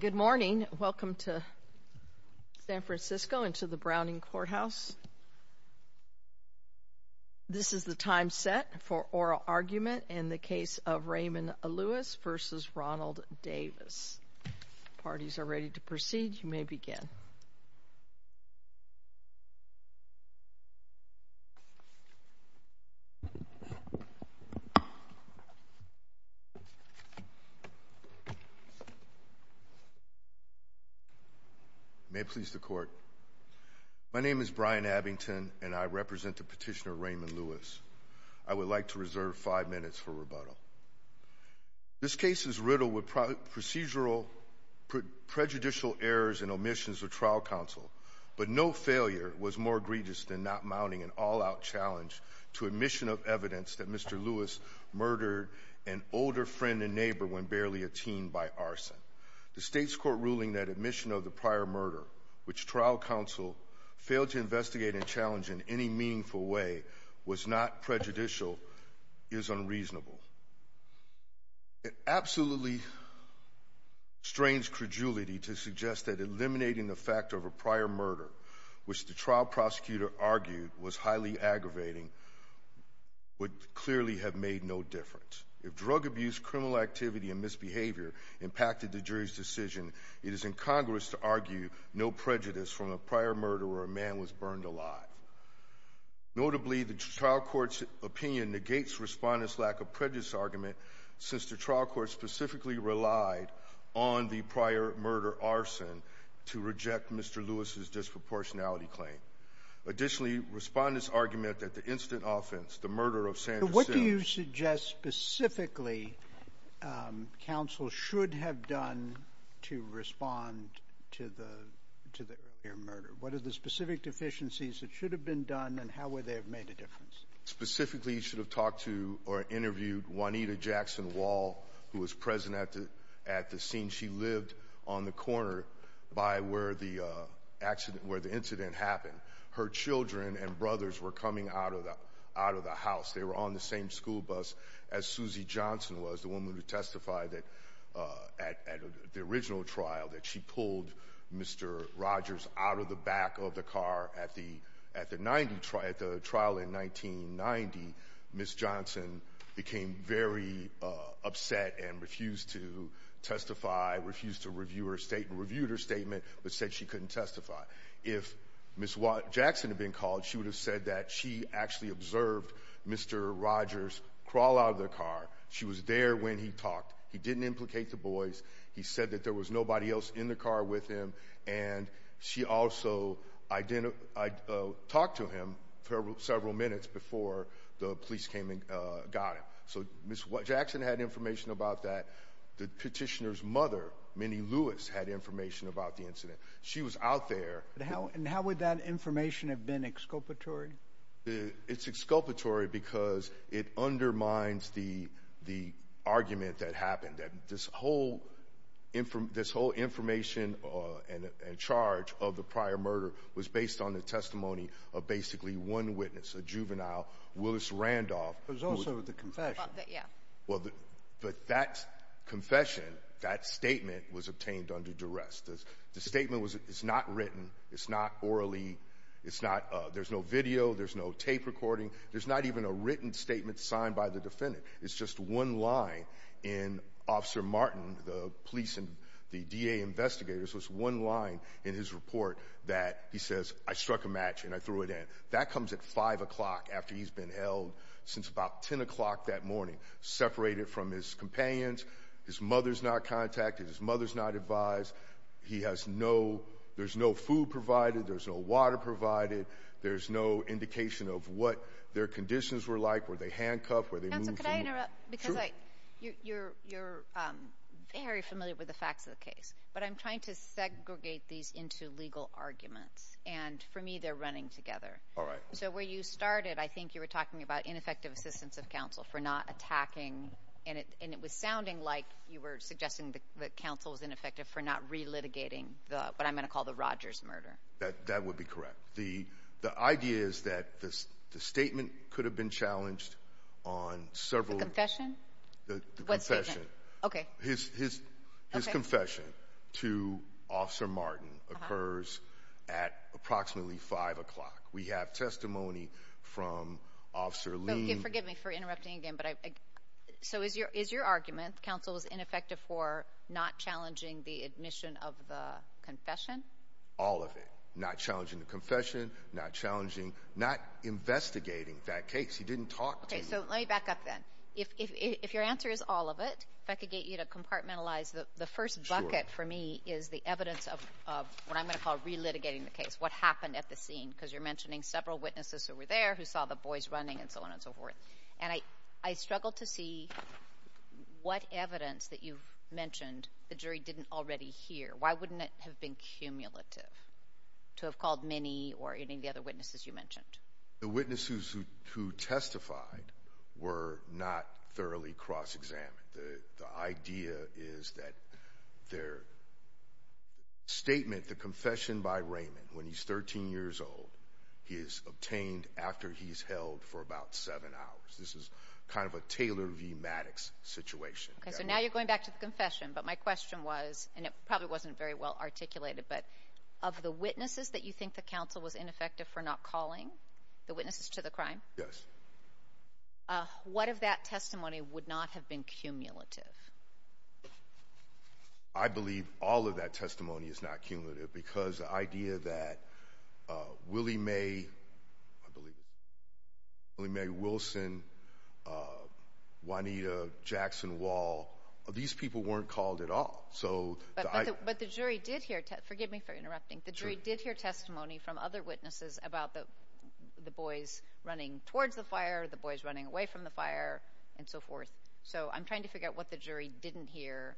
Good morning. Welcome to San Francisco and to the Browning Courthouse. This is the time set for oral argument in the case of Raymond Lewis v. Ronald Davis. The parties are ready to proceed. You may begin. May it please the Court. My name is Brian Abbington and I represent the petitioner Raymond Lewis. I would like to reserve five minutes for rebuttal. This case is riddled with procedural prejudicial errors and omissions of trial counsel, but no failure was more egregious than not mounting an all-out challenge to admission of evidence that Mr. Lewis murdered an older friend and neighbor when barely a teen by arson. The state's court ruling that admission of the prior murder, which trial counsel failed to investigate and challenge in any meaningful way, was not prejudicial is unreasonable. It absolutely strains credulity to suggest that eliminating the fact of a prior murder, which the trial prosecutor argued was highly aggravating, would clearly have made no difference. If drug abuse, criminal activity, and misbehavior impacted the jury's decision, it is incongruous to argue no prejudice from a prior murder where a man was burned alive. Notably, the trial court's opinion negates Respondent's lack of prejudice argument, since the trial court specifically relied on the prior murder arson to reject Mr. Lewis's disproportionality claim. Additionally, Respondent's argument that the instant offense, the murder of Sandra Sims — to the earlier murder. What are the specific deficiencies that should have been done, and how would they have made a difference? Specifically, you should have talked to or interviewed Juanita Jackson Wall, who was present at the scene. She lived on the corner by where the incident happened. Her children and brothers were coming out of the house. They were on the same school bus as Suzy Johnson was, the woman who testified at the original trial, that she pulled Mr. Rogers out of the back of the car at the trial in 1990. Ms. Johnson became very upset and refused to testify, refused to review her statement, but said she couldn't testify. If Ms. Jackson had been called, she would have said that she actually observed Mr. Rogers crawl out of the car. She was there when he talked. He didn't implicate the boys. He said that there was nobody else in the car with him, and she also talked to him several minutes before the police came and got him. So Ms. Jackson had information about that. The petitioner's mother, Minnie Lewis, had information about the incident. She was out there. And how would that information have been exculpatory? It's exculpatory because it undermines the argument that happened, that this whole information and charge of the prior murder was based on the testimony of basically one witness, a juvenile, Willis Randolph. There's also the confession. But that confession, that statement, was obtained under duress. The statement is not written. It's not orally. There's no video. There's no tape recording. There's not even a written statement signed by the defendant. It's just one line in Officer Martin, the police and the DA investigators, was one line in his report that he says, I struck a match and I threw it in. That comes at 5 o'clock after he's been held since about 10 o'clock that morning, separated from his companions. His mother's not contacted. His mother's not advised. He has no, there's no food provided. There's no water provided. There's no indication of what their conditions were like. Were they handcuffed? Were they moved from? Counsel, could I interrupt? Sure. Because you're very familiar with the facts of the case. But I'm trying to segregate these into legal arguments. And for me, they're running together. All right. So where you started, I think you were talking about ineffective assistance of counsel for not attacking. And it was sounding like you were suggesting that counsel was ineffective for not relitigating what I'm going to call the Rogers murder. That would be correct. The idea is that the statement could have been challenged on several. The confession? The confession. Okay. His confession to Officer Martin occurs at approximately 5 o'clock. We have testimony from Officer Lee. Forgive me for interrupting again. So is your argument counsel is ineffective for not challenging the admission of the confession? All of it. Not challenging the confession, not investigating that case. He didn't talk to me. Okay. So let me back up then. If your answer is all of it, if I could get you to compartmentalize, the first bucket for me is the evidence of what I'm going to call relitigating the case, what happened at the scene, because you're mentioning several witnesses who were there, who saw the boys running, and so on and so forth. And I struggle to see what evidence that you've mentioned the jury didn't already hear. Why wouldn't it have been cumulative to have called many or any of the other witnesses you mentioned? The witnesses who testified were not thoroughly cross-examined. The idea is that their statement, the confession by Raymond, when he's 13 years old, he is obtained after he's held for about seven hours. This is kind of a Taylor v. Maddox situation. Okay. So now you're going back to the confession. But my question was, and it probably wasn't very well articulated, but of the witnesses that you think the counsel was ineffective for not calling, the witnesses to the crime? Yes. What if that testimony would not have been cumulative? I believe all of that testimony is not cumulative because the idea that Willie May, I believe, Willie May, Wilson, Juanita, Jackson, Wall, these people weren't called at all. But the jury did hear, forgive me for interrupting, the jury did hear testimony from other witnesses about the boys running towards the fire, the boys running away from the fire, and so forth. So I'm trying to figure out what the jury didn't hear.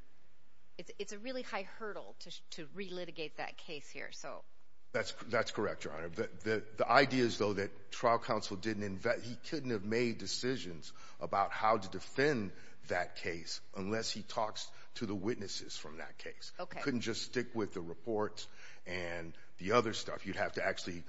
It's a really high hurdle to relitigate that case here. That's correct, Your Honor. The idea is, though, that trial counsel didn't invest, he couldn't have made decisions about how to defend that case unless he talks to the witnesses from that case. Okay. He couldn't just stick with the reports and the other stuff. You'd have to actually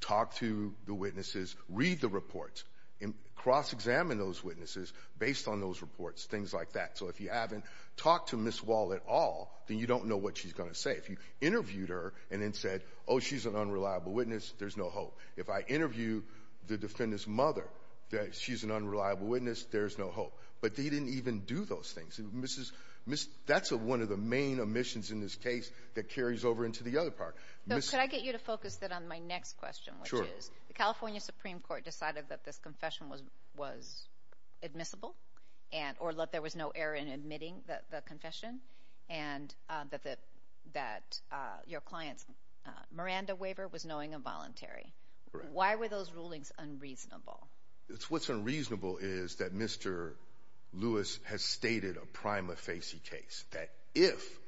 talk to the witnesses, read the reports, and cross-examine those witnesses based on those reports, things like that. So if you haven't talked to Ms. Wall at all, then you don't know what she's going to say. If you interviewed her and then said, oh, she's an unreliable witness, there's no hope. If I interview the defendant's mother that she's an unreliable witness, there's no hope. But they didn't even do those things. That's one of the main omissions in this case that carries over into the other part. Could I get you to focus that on my next question? Sure. The California Supreme Court decided that this confession was admissible or that there was no error in admitting the confession and that your client's Miranda waiver was knowing and voluntary. Why were those rulings unreasonable? What's unreasonable is that Mr. Lewis has stated a prima facie case, that if,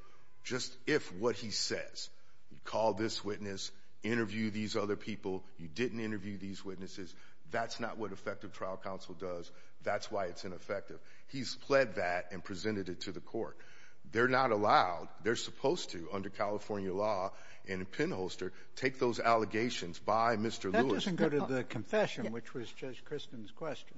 just if what he says, you call this witness, interview these other people, you didn't interview these witnesses, that's not what effective trial counsel does. That's why it's ineffective. He's pled that and presented it to the court. They're not allowed. They're supposed to under California law in a pinholster take those allegations by Mr. Lewis. It doesn't go to the confession, which was Judge Christin's question.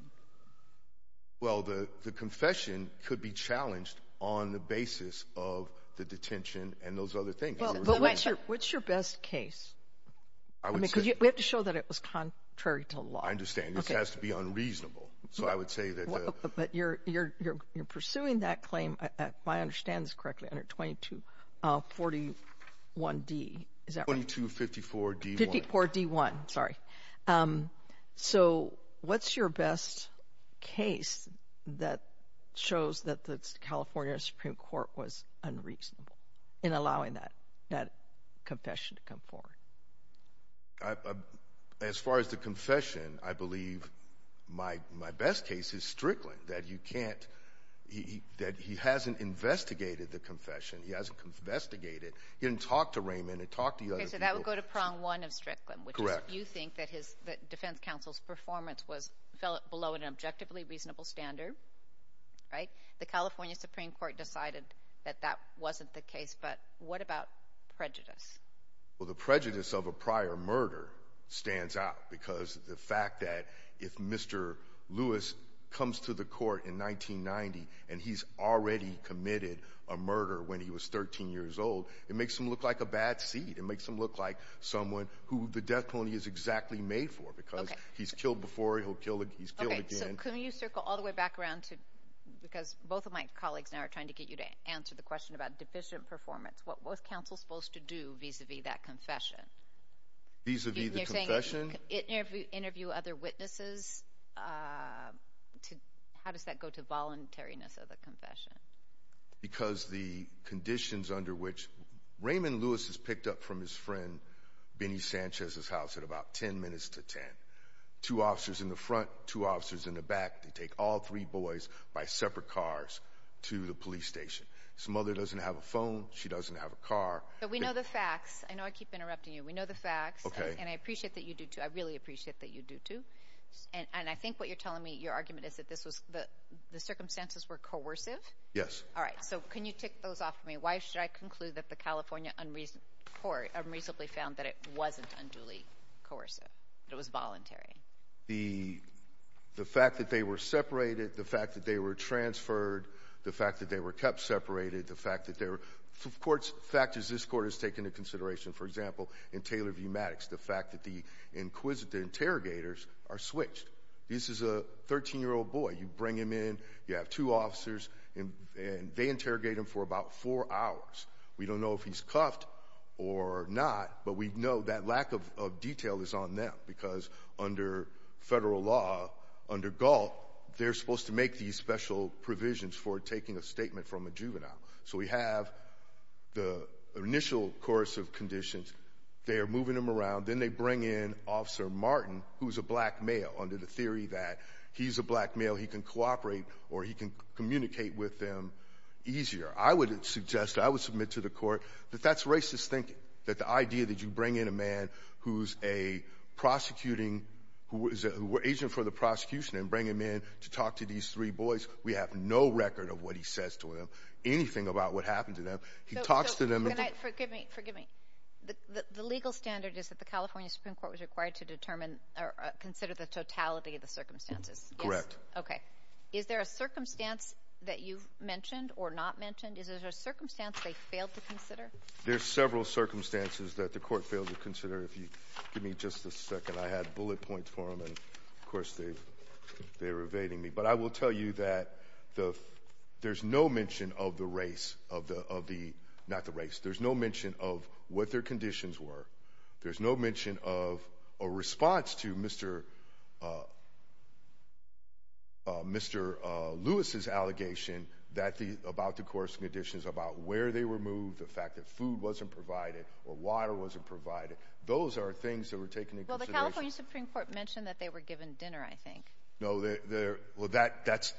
Well, the confession could be challenged on the basis of the detention and those other things. What's your best case? We have to show that it was contrary to law. I understand. This has to be unreasonable. So I would say that the – But you're pursuing that claim, if I understand this correctly, under 2241D, is that right? 2254D1. Sorry. So what's your best case that shows that the California Supreme Court was unreasonable in allowing that confession to come forward? As far as the confession, I believe my best case is Strickland, that you can't – that he hasn't investigated the confession. He hasn't investigated it. He didn't talk to Raymond or talk to the other people. So that would go to prong one of Strickland, which is you think that his – that defense counsel's performance was below an objectively reasonable standard, right? The California Supreme Court decided that that wasn't the case. But what about prejudice? Well, the prejudice of a prior murder stands out because the fact that if Mr. Lewis comes to the court in 1990 and he's already committed a murder when he was 13 years old, it makes him look like a bad seed. It makes him look like someone who the death penalty is exactly made for because he's killed before, he's killed again. Okay, so can you circle all the way back around to – because both of my colleagues now are trying to get you to answer the question about deficient performance. What was counsel supposed to do vis-à-vis that confession? Vis-à-vis the confession? Interview other witnesses? How does that go to voluntariness of the confession? Because the conditions under which – Raymond Lewis is picked up from his friend Benny Sanchez's house at about 10 minutes to 10. Two officers in the front, two officers in the back. They take all three boys by separate cars to the police station. His mother doesn't have a phone. She doesn't have a car. But we know the facts. I know I keep interrupting you. We know the facts, and I appreciate that you do too. I really appreciate that you do too. And I think what you're telling me, your argument, is that the circumstances were coercive? Yes. All right, so can you tick those off for me? Why should I conclude that the California court unreasonably found that it wasn't unduly coercive, that it was voluntary? The fact that they were separated, the fact that they were transferred, the fact that they were kept separated, the fact that they were – of course, factors this court has taken into consideration. For example, in Taylor v. Maddox, the fact that the inquisitive interrogators are switched. This is a 13-year-old boy. You bring him in, you have two officers, and they interrogate him for about four hours. We don't know if he's cuffed or not, but we know that lack of detail is on them because under federal law, under Galt, they're supposed to make these special provisions for taking a statement from a juvenile. So we have the initial coercive conditions. They are moving him around. Then they bring in Officer Martin, who's a black male, under the theory that he's a black male, he can cooperate or he can communicate with them easier. I would suggest, I would submit to the court that that's racist thinking, that the idea that you bring in a man who's a prosecuting – who is an agent for the prosecution and bring him in to talk to these three boys, we have no record of what he says to them, anything about what happened to them. He talks to them. Can I – forgive me, forgive me. The legal standard is that the California Supreme Court was required to determine or consider the totality of the circumstances. Correct. Okay. Is there a circumstance that you've mentioned or not mentioned? Is there a circumstance they failed to consider? There's several circumstances that the court failed to consider. If you give me just a second. I had bullet points for them, and, of course, they were evading me. But I will tell you that there's no mention of the race – not the race. There's no mention of what their conditions were. There's no mention of a response to Mr. Lewis's allegation about the coercive conditions, about where they were moved, the fact that food wasn't provided or water wasn't provided. Those are things that were taken into consideration. Well, the California Supreme Court mentioned that they were given dinner, I think. No, they're – well, that's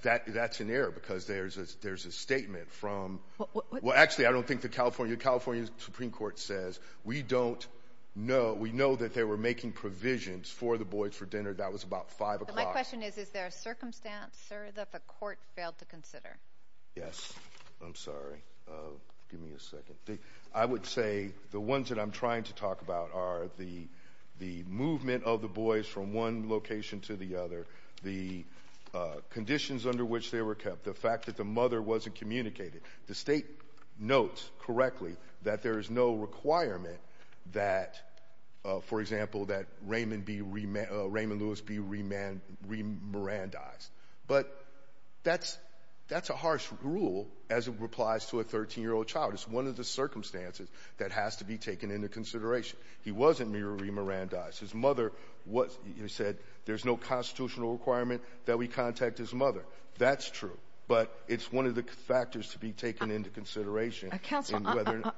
an error because there's a statement from – Well, actually, I don't think the California – the California Supreme Court says, we don't know – we know that they were making provisions for the boys for dinner. That was about 5 o'clock. My question is, is there a circumstance, sir, that the court failed to consider? Yes. I'm sorry. Give me a second. I would say the ones that I'm trying to talk about are the movement of the boys from one location to the other, the conditions under which they were kept, the fact that the mother wasn't communicated. The state notes correctly that there is no requirement that, for example, that Raymond be – Raymond Lewis be remirandized. But that's a harsh rule as it applies to a 13-year-old child. It's one of the circumstances that has to be taken into consideration. He wasn't remirandized. His mother said there's no constitutional requirement that we contact his mother. That's true. But it's one of the factors to be taken into consideration. Counsel,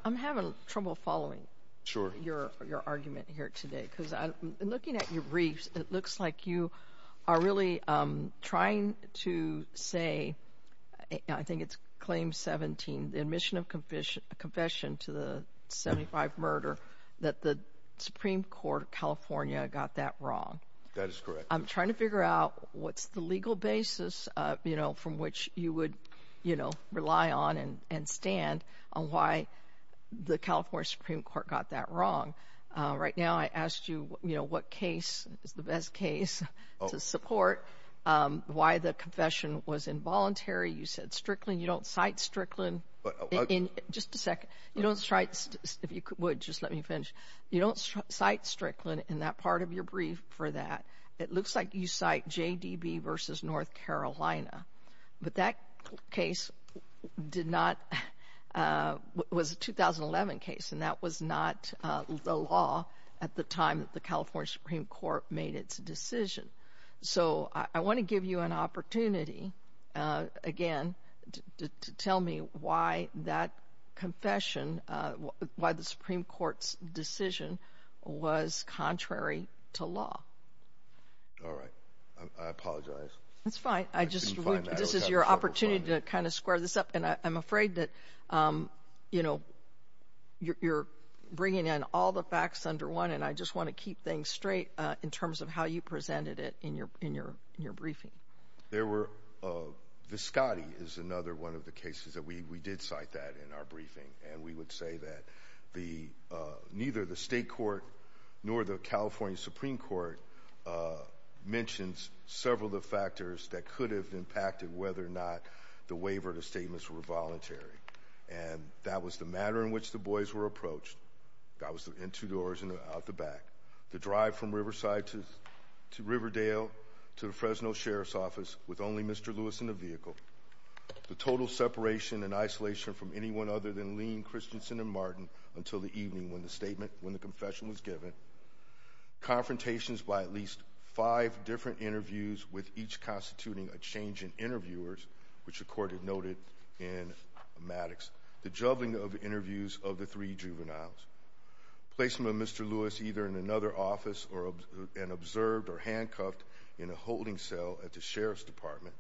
I'm having trouble following your argument here today because looking at your briefs, it looks like you are really trying to say – I think it's Claim 17, the admission of confession to the 75 murder that the Supreme Court of California got that wrong. That is correct. I'm trying to figure out what's the legal basis from which you would rely on and stand on why the California Supreme Court got that wrong. Right now I asked you what case is the best case to support why the confession was involuntary. You said Strickland. You don't cite Strickland. Just a second. If you would, just let me finish. You don't cite Strickland in that part of your brief for that. It looks like you cite JDB v. North Carolina, but that case was a 2011 case, and that was not the law at the time that the California Supreme Court made its decision. I want to give you an opportunity, again, to tell me why that confession, why the Supreme Court's decision was contrary to law. All right. I apologize. That's fine. This is your opportunity to kind of square this up, and I'm afraid that you're bringing in all the facts under one, and I just want to keep things straight in terms of how you presented it in your briefing. Viscotti is another one of the cases that we did cite that in our briefing, and we would say that neither the state court nor the California Supreme Court mentions several of the factors that could have impacted whether or not the waiver of the statements were voluntary, and that was the manner in which the boys were approached. The guy was in two doors and out the back. The drive from Riverside to Riverdale to the Fresno Sheriff's Office with only Mr. Lewis in the vehicle. The total separation and isolation from anyone other than Lean, Christensen, and Martin until the evening when the confession was given. Confrontations by at least five different interviews, with each constituting a change in interviewers, which the court had noted in Maddox. The juggling of interviews of the three juveniles. Placement of Mr. Lewis either in another office and observed or handcuffed in a holding cell at the Sheriff's Department.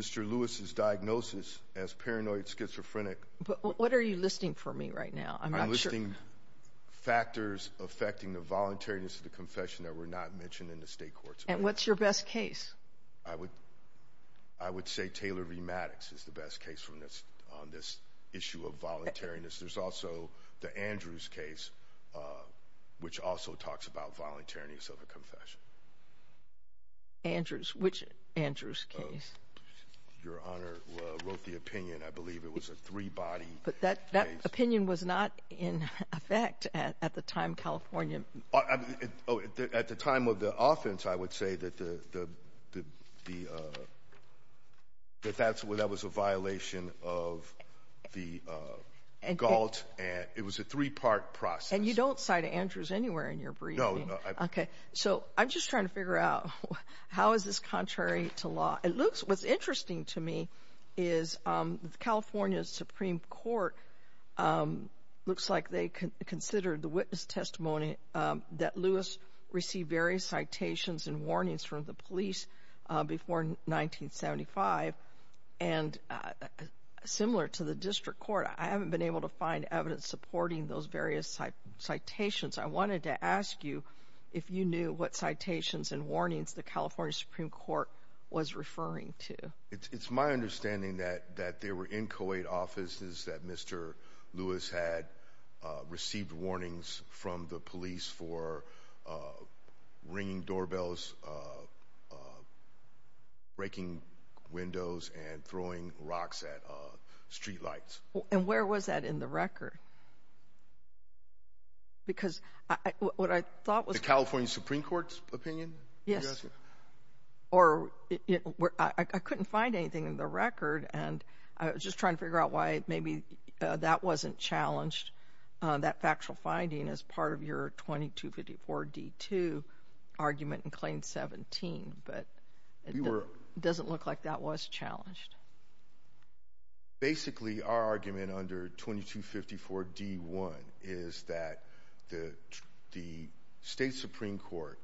Mr. Lewis's diagnosis as paranoid schizophrenic. But what are you listing for me right now? I'm listing factors affecting the voluntariness of the confession that were not mentioned in the state courts. And what's your best case? I would say Taylor v. Maddox is the best case on this issue of voluntariness. There's also the Andrews case, which also talks about voluntariness of a confession. Andrews? Which Andrews case? Your Honor wrote the opinion, I believe. It was a three-body case. But that opinion was not in effect at the time California. At the time of the offense, I would say that that was a violation of the gault. It was a three-part process. And you don't cite Andrews anywhere in your briefing. No, no. Okay. So I'm just trying to figure out how is this contrary to law? What's interesting to me is the California Supreme Court looks like they considered the witness testimony that Lewis received various citations and warnings from the police before 1975. And similar to the district court, I haven't been able to find evidence supporting those various citations. I wanted to ask you if you knew what citations and warnings the California Supreme Court was referring to. It's my understanding that there were inchoate offices that Mr. Lewis had received warnings from the police for ringing doorbells, breaking windows, and throwing rocks at streetlights. The California Supreme Court's opinion? Yes. I couldn't find anything in the record. And I was just trying to figure out why maybe that wasn't challenged, that factual finding as part of your 2254-D2 argument in Claim 17. But it doesn't look like that was challenged. Basically, our argument under 2254-D1 is that the state Supreme Court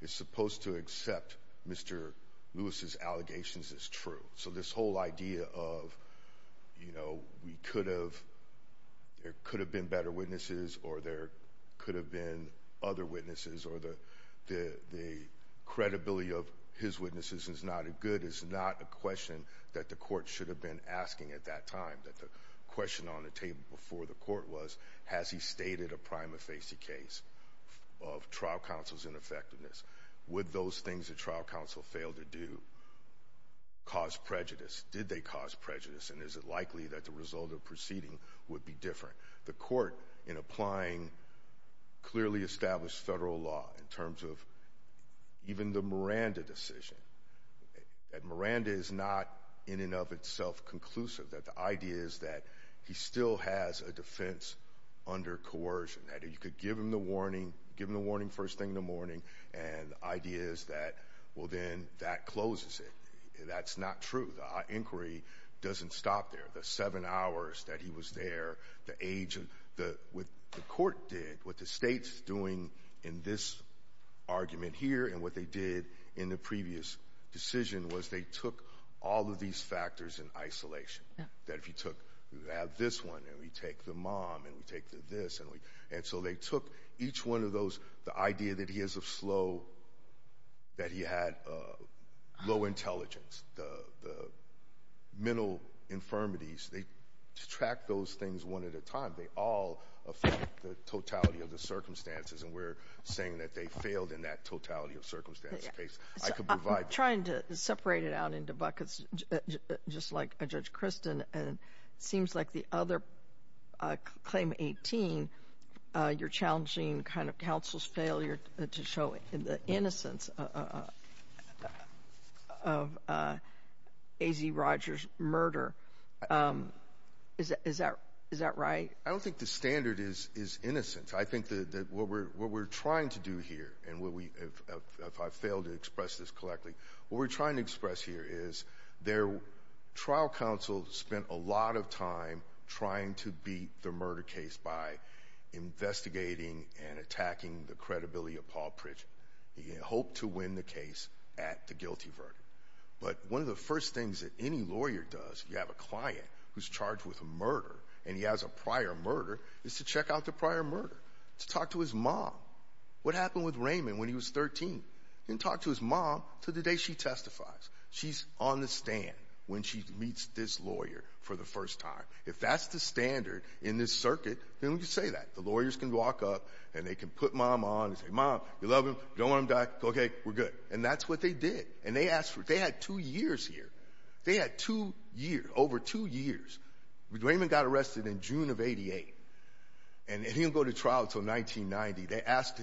is supposed to accept Mr. Lewis's allegations as true. So this whole idea of, you know, we could have, there could have been better witnesses, or there could have been other witnesses, or the credibility of his witnesses is not a good, it is not a question that the court should have been asking at that time. The question on the table before the court was, has he stated a prima facie case of trial counsel's ineffectiveness? Would those things the trial counsel failed to do cause prejudice? Did they cause prejudice, and is it likely that the result of the proceeding would be different? The court, in applying clearly established federal law in terms of even the Miranda decision, that Miranda is not in and of itself conclusive, that the idea is that he still has a defense under coercion, that you could give him the warning, give him the warning first thing in the morning, and the idea is that, well, then that closes it. That's not true. The inquiry doesn't stop there. The seven hours that he was there, the age, what the court did, what the state's doing in this argument here, and what they did in the previous decision was they took all of these factors in isolation. That if you took, you have this one, and we take the mom, and we take the this, and we, and so they took each one of those, the idea that he has a slow, that he had low intelligence, the mental infirmities, they track those things one at a time. They all affect the totality of the circumstances, and we're saying that they failed in that totality of circumstances case. I could provide. I'm trying to separate it out into buckets, just like Judge Christin, and it seems like the other claim 18, you're challenging kind of counsel's failure to show the innocence of A.Z. Rogers' murder. Is that right? I don't think the standard is innocence. I think that what we're trying to do here, and if I fail to express this correctly, what we're trying to express here is their trial counsel spent a lot of time trying to beat the murder case by investigating and attacking the credibility of Paul Pritchett. He hoped to win the case at the guilty verdict. But one of the first things that any lawyer does if you have a client who's charged with a murder and he has a prior murder is to check out the prior murder, to talk to his mom. What happened with Raymond when he was 13? He didn't talk to his mom until the day she testifies. She's on the stand when she meets this lawyer for the first time. If that's the standard in this circuit, then we can say that. The lawyers can walk up, and they can put mom on and say, Mom, you love him, you don't want him to die. Okay, we're good. And that's what they did, and they asked for it. They had two years here. They had two years, over two years. Raymond got arrested in June of 88, and he didn't go to trial until 1990. They asked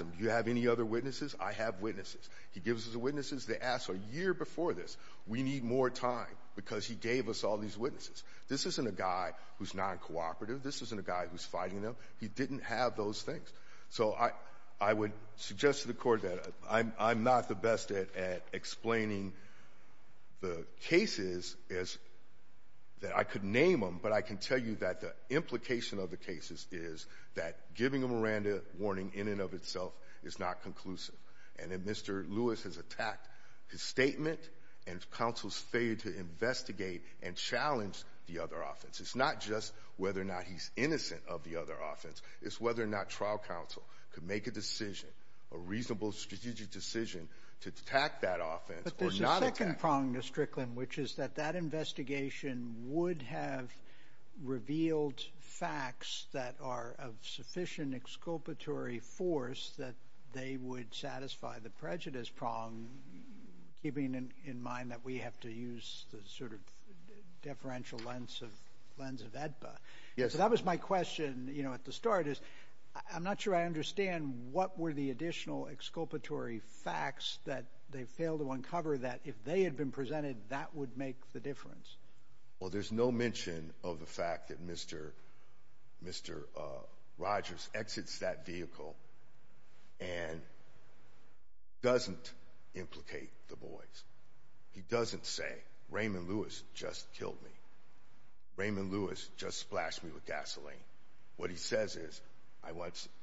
him, do you have any other witnesses? I have witnesses. He gives us the witnesses. They asked a year before this, we need more time, because he gave us all these witnesses. This isn't a guy who's non-cooperative. This isn't a guy who's fighting them. He didn't have those things. So I would suggest to the Court that I'm not the best at explaining the cases that I could name them, but I can tell you that the implication of the cases is that giving a Miranda warning in and of itself is not conclusive. And if Mr. Lewis has attacked his statement and counsel's failure to investigate and challenge the other offense, it's not just whether or not he's innocent of the other offense, it's whether or not trial counsel could make a decision, a reasonable strategic decision, to attack that offense or not attack it. The other prong, Mr. Strickland, which is that that investigation would have revealed facts that are of sufficient exculpatory force that they would satisfy the prejudice prong, keeping in mind that we have to use the sort of deferential lens of AEDPA. Yes. So that was my question, you know, at the start is I'm not sure I understand what were the additional exculpatory facts that they failed to uncover that if they had been presented, that would make the difference. Well, there's no mention of the fact that Mr. Rogers exits that vehicle and doesn't implicate the boys. He doesn't say, Raymond Lewis just killed me. Raymond Lewis just splashed me with gasoline. What he says is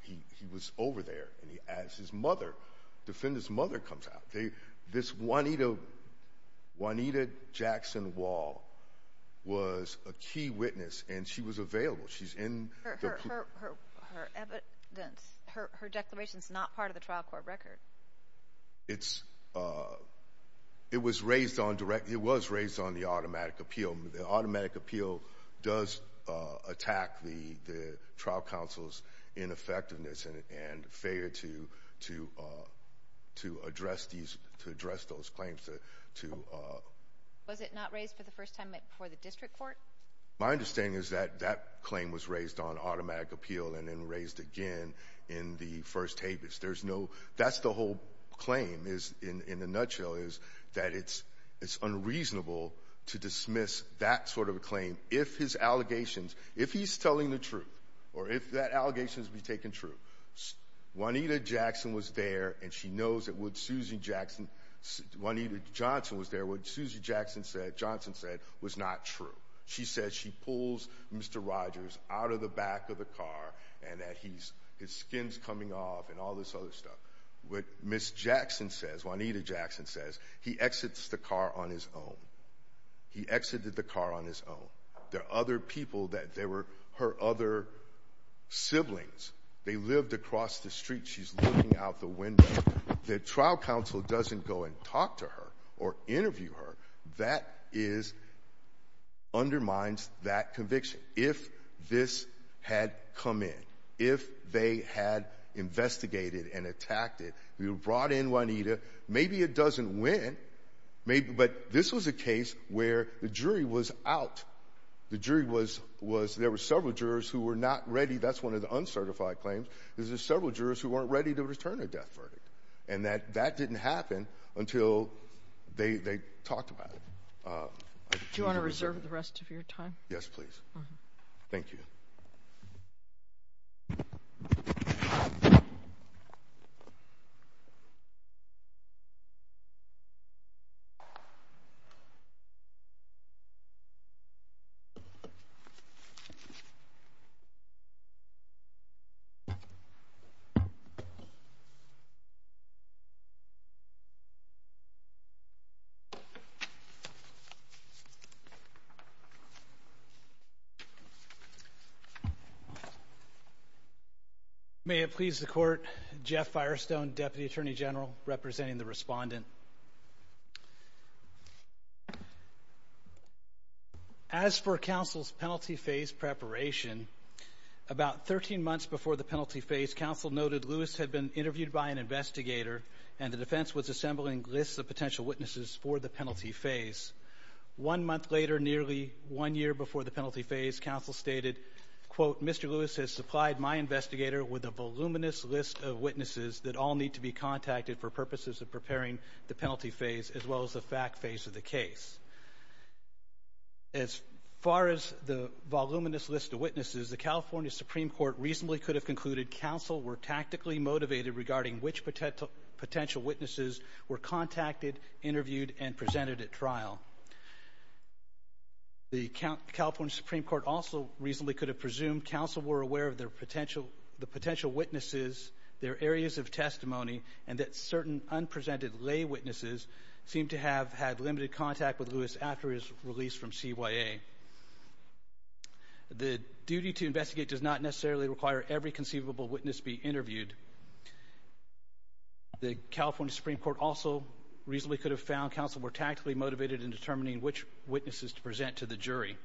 he was over there, and as his mother, defendant's mother comes out. This Juanita Jackson Wall was a key witness, and she was available. She's in the pool. Her evidence, her declaration is not part of the trial court record. It was raised on the automatic appeal. So the automatic appeal does attack the trial counsel's ineffectiveness and failure to address those claims. Was it not raised for the first time before the district court? My understanding is that that claim was raised on automatic appeal and then raised again in the first habeas. That's the whole claim in a nutshell is that it's unreasonable to dismiss that sort of a claim if his allegations, if he's telling the truth or if that allegation has been taken true. Juanita Jackson was there, and she knows that what Suzy Jackson, Juanita Johnson was there, what Suzy Johnson said was not true. She said she pulls Mr. Rogers out of the back of the car and that his skin's coming off and all this other stuff. What Ms. Jackson says, Juanita Jackson says, he exits the car on his own. He exited the car on his own. There are other people that there were her other siblings. They lived across the street. She's looking out the window. The trial counsel doesn't go and talk to her or interview her. That is, undermines that conviction. If this had come in, if they had investigated and attacked it, brought in Juanita, maybe it doesn't win, but this was a case where the jury was out. The jury was, there were several jurors who were not ready. That's one of the uncertified claims is there's several jurors who weren't ready to return a death verdict, and that didn't happen until they talked about it. Do you want to reserve the rest of your time? Yes, please. Thank you. Thank you. May it please the court, Jeff Firestone, Deputy Attorney General, representing the respondent. As for counsel's penalty phase preparation, about 13 months before the penalty phase, counsel noted Lewis had been interviewed by an investigator, and the defense was assembling lists of potential witnesses for the penalty phase. One month later, nearly one year before the penalty phase, counsel stated, quote, Mr. Lewis has supplied my investigator with a voluminous list of witnesses that all need to be contacted for purposes of preparing the penalty phase as well as the fact phase of the case. As far as the voluminous list of witnesses, the California Supreme Court reasonably could have concluded counsel were tactically motivated regarding which potential witnesses were contacted, interviewed, and presented at trial. The California Supreme Court also reasonably could have presumed counsel were aware of the potential witnesses, their areas of testimony, and that certain unpresented lay witnesses seemed to have had limited contact with Lewis after his release from CYA. The duty to investigate does not necessarily require every conceivable witness be interviewed. The California Supreme Court also reasonably could have found counsel were tactically motivated in determining which witnesses to present to the jury.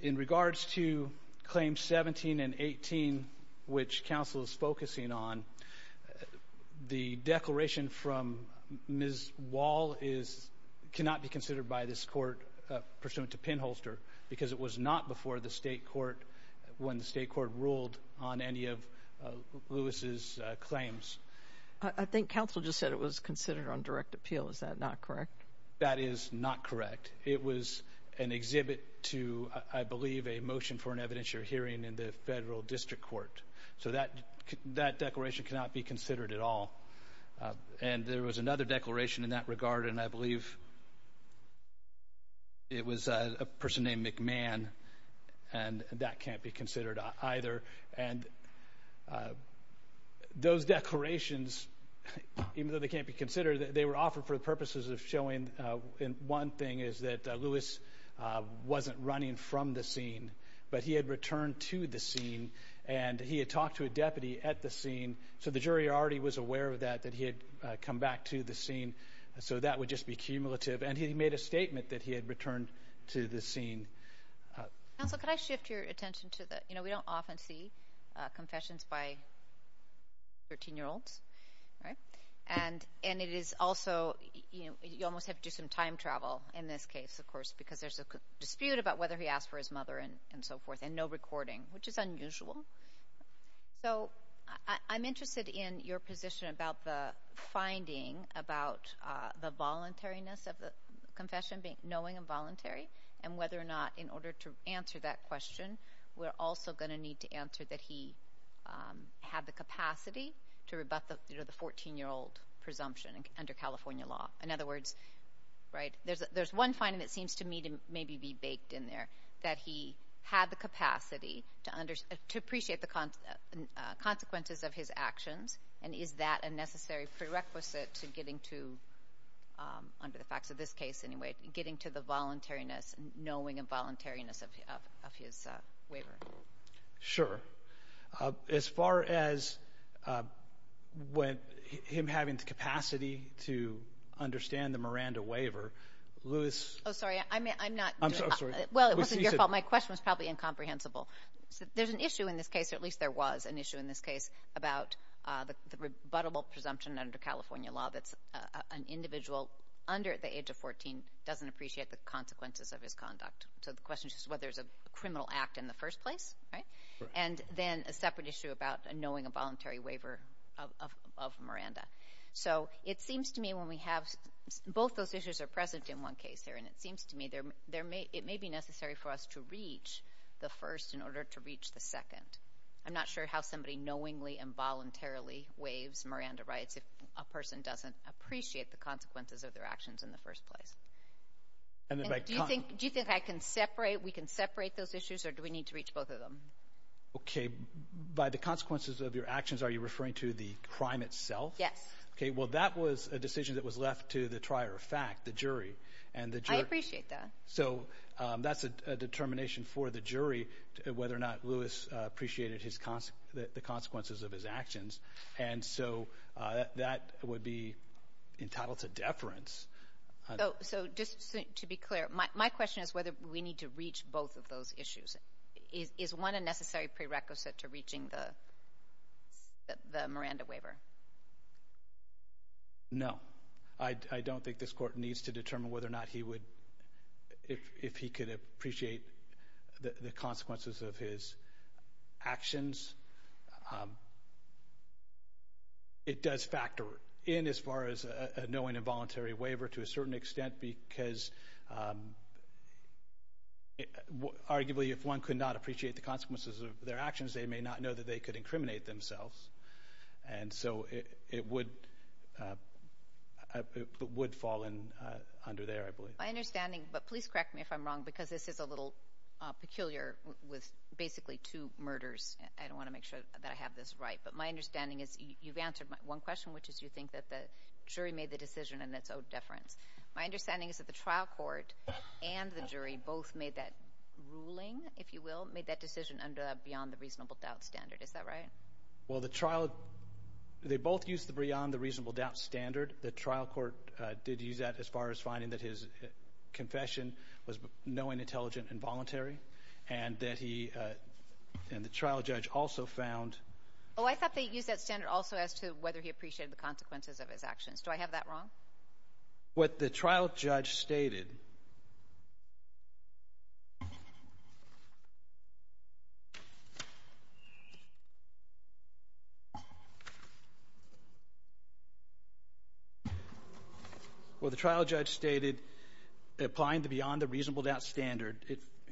In regards to Claims 17 and 18, which counsel is focusing on, the declaration from Ms. Wall cannot be considered by this court pursuant to pinholster because it was not before the state court, when the state court ruled on any of Lewis' claims. I think counsel just said it was considered on direct appeal. Is that not correct? That is not correct. It was an exhibit to, I believe, a motion for an evidentiary hearing in the federal district court. So that declaration cannot be considered at all. And there was another declaration in that regard, and I believe it was a person named McMahon, and that can't be considered either. And those declarations, even though they can't be considered, they were offered for the purposes of showing one thing is that Lewis wasn't running from the scene, but he had returned to the scene, and he had talked to a deputy at the scene. So the jury already was aware of that, that he had come back to the scene. So that would just be cumulative. And he made a statement that he had returned to the scene. Counsel, can I shift your attention to the, you know, we don't often see confessions by 13-year-olds, right? And it is also, you know, you almost have to do some time travel in this case, of course, because there's a dispute about whether he asked for his mother and so forth, and no recording, which is unusual. So I'm interested in your position about the finding about the voluntariness of the confession, knowing and voluntary, and whether or not in order to answer that question, we're also going to need to answer that he had the capacity to rebut the 14-year-old presumption under California law. In other words, right, there's one finding that seems to me to maybe be baked in there, that he had the capacity to appreciate the consequences of his actions, and is that a necessary prerequisite to getting to, under the facts of this case anyway, getting to the voluntariness, knowing and voluntariness of his waiver? Sure. As far as him having the capacity to understand the Miranda waiver, Lewis— Oh, sorry, I'm not— I'm sorry. Well, it wasn't your fault. My question was probably incomprehensible. There's an issue in this case, or at least there was an issue in this case, about the rebuttable presumption under California law that an individual under the age of 14 doesn't appreciate the consequences of his conduct. So the question is whether it's a criminal act in the first place, right? And then a separate issue about knowing a voluntary waiver of Miranda. So it seems to me when we have—both those issues are present in one case here, and it seems to me it may be necessary for us to reach the first in order to reach the second. I'm not sure how somebody knowingly and voluntarily waives Miranda rights if a person doesn't appreciate the consequences of their actions in the first place. Do you think I can separate—we can separate those issues, or do we need to reach both of them? Okay. By the consequences of your actions, are you referring to the crime itself? Yes. Okay. Well, that was a decision that was left to the trier of fact, the jury. I appreciate that. So that's a determination for the jury whether or not Lewis appreciated the consequences of his actions. And so that would be entitled to deference. So just to be clear, my question is whether we need to reach both of those issues. Is one a necessary prerequisite to reaching the Miranda waiver? No. I don't think this court needs to determine whether or not he would— if he could appreciate the consequences of his actions. It does factor in as far as a knowingly and voluntarily waiver to a certain extent because arguably if one could not appreciate the consequences of their actions, they may not know that they could incriminate themselves. And so it would fall under there, I believe. My understanding—but please correct me if I'm wrong because this is a little peculiar with basically two murders. I don't want to make sure that I have this right. But my understanding is you've answered one question, which is you think that the jury made the decision and that's owed deference. My understanding is that the trial court and the jury both made that ruling, if you will, made that decision under the beyond the reasonable doubt standard. Is that right? Well, the trial—they both used the beyond the reasonable doubt standard. The trial court did use that as far as finding that his confession was knowing, intelligent, and voluntary. And that he—and the trial judge also found— Oh, I thought they used that standard also as to whether he appreciated the consequences of his actions. Do I have that wrong? What the trial judge stated—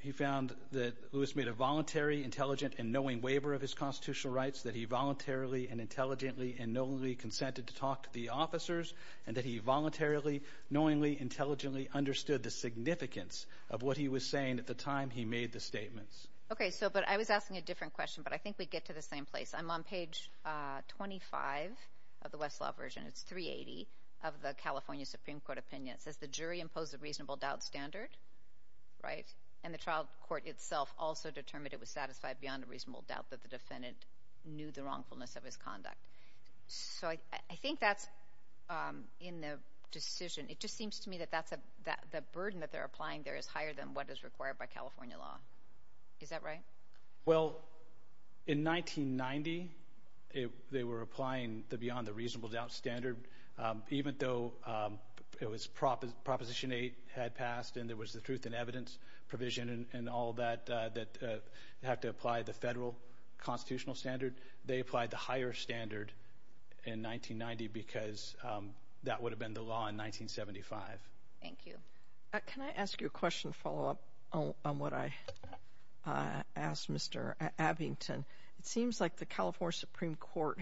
He found that Lewis made a voluntary, intelligent, and knowing waiver of his constitutional rights, that he voluntarily and intelligently and knowingly consented to talk to the officers, and that he voluntarily, knowingly, intelligently understood the significance of what he was saying at the time he made the statements. Okay, so—but I was asking a different question, but I think we get to the same place. I'm on page 25 of the Westlaw version. It's 380 of the California Supreme Court opinion. It says the jury imposed a reasonable doubt standard, right? And the trial court itself also determined it was satisfied beyond a reasonable doubt that the defendant knew the wrongfulness of his conduct. So I think that's in the decision. It just seems to me that that's a—the burden that they're applying there is higher than what is required by California law. Is that right? Well, in 1990, they were applying the beyond the reasonable doubt standard, even though it was—Proposition 8 had passed, and there was the truth in evidence provision and all that, that you have to apply the federal constitutional standard. They applied the higher standard in 1990 because that would have been the law in 1975. Thank you. Can I ask you a question to follow up on what I asked Mr. Abington? It seems like the California Supreme Court,